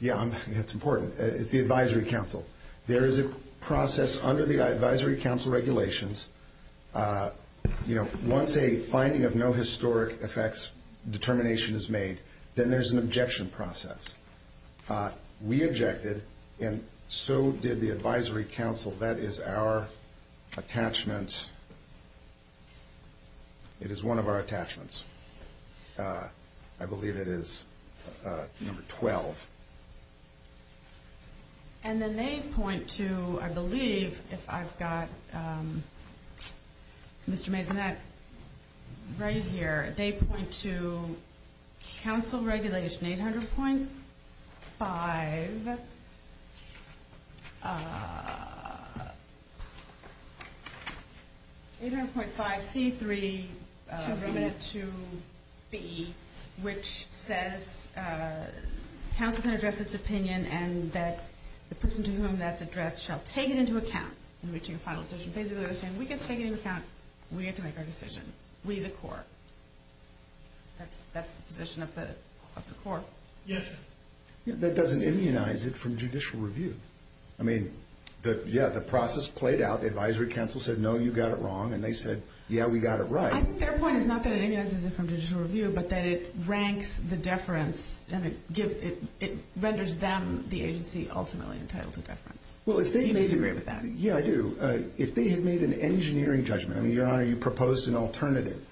Yeah, it's important. It's the Advisory Council. There is a process under the Advisory Council regulations. Once a finding of no historic effects determination is made, then there's an objection process. We objected and so did the Advisory Council. So that is our attachments. It is one of our attachments. I believe it is number 12. And then they point to, I believe, if I've got Mr. Mabinette right here, they point to Council Regulation 800.5 C322B, which says Council can address this opinion and that the person to whom that's addressed shall take it into account in reaching a final decision. Basically they're saying we can take it into account and we get to make our decision. We the court. That's the position of the court. Yes. That doesn't immunize it from judicial review. I mean, yeah, the process played out. The Advisory Council said, no, you got it wrong. And they said, yeah, we got it right. I think their point is not that it immunizes it from judicial review, but that it ranks the deference and it renders them the agency ultimately entitled to deference. Do you agree with that? Yeah, I do. If they had made an engineering judgment, I mean, Your Honor, you proposed an alternative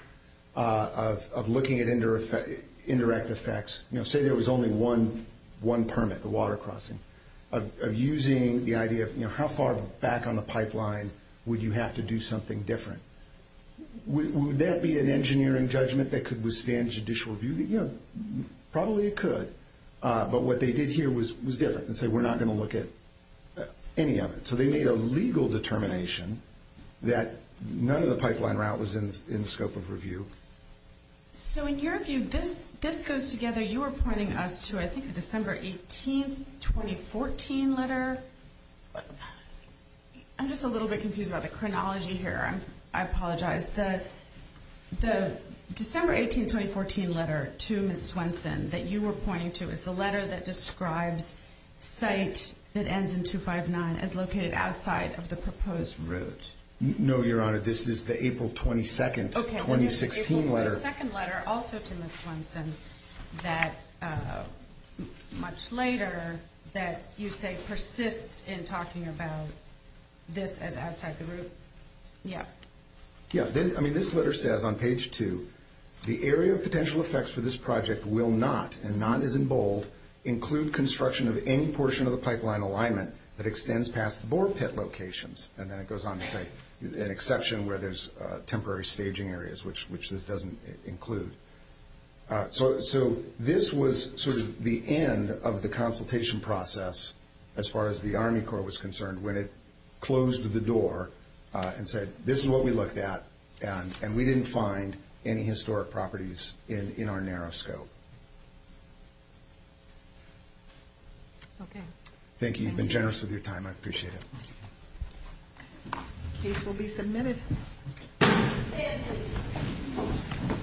of looking at indirect effects. Say there was only one permit, the water crossing, of using the idea of how far back on the pipeline would you have to do something different. Would that be an engineering judgment that could withstand judicial review? Yeah, probably it could. But what they did here was different. They said we're not going to look at any of it. So they made a legal determination that none of the pipeline route was in the scope of review. So in your view, this goes together. You were pointing us to, I think, a December 18, 2014 letter. I'm just a little bit confused about the chronology here. I apologize. The December 18, 2014 letter to Ms. Swenson that you were pointing to is the letter that describes sites that ends in 259 as located outside of the proposed route. No, Your Honor. This is the April 22, 2016 letter. There's a second letter also to Ms. Swenson that, much later, that you say persists in talking about this as outside the route. Yeah. Yeah. I mean, this letter says on page two, the area of potential effects for this project will not, and not as in bold, include construction of any portion of the pipeline alignment that extends past bore pit locations. And then it goes on to say an exception where there's temporary staging areas, which this doesn't include. So this was sort of the end of the consultation process as far as the Army Corps was concerned when it closed the door and said, this is what we looked at, and we didn't find any historic properties in our narrow scope. Okay. Thank you. You've been generous with your time. I appreciate it. Thank you. Thank you.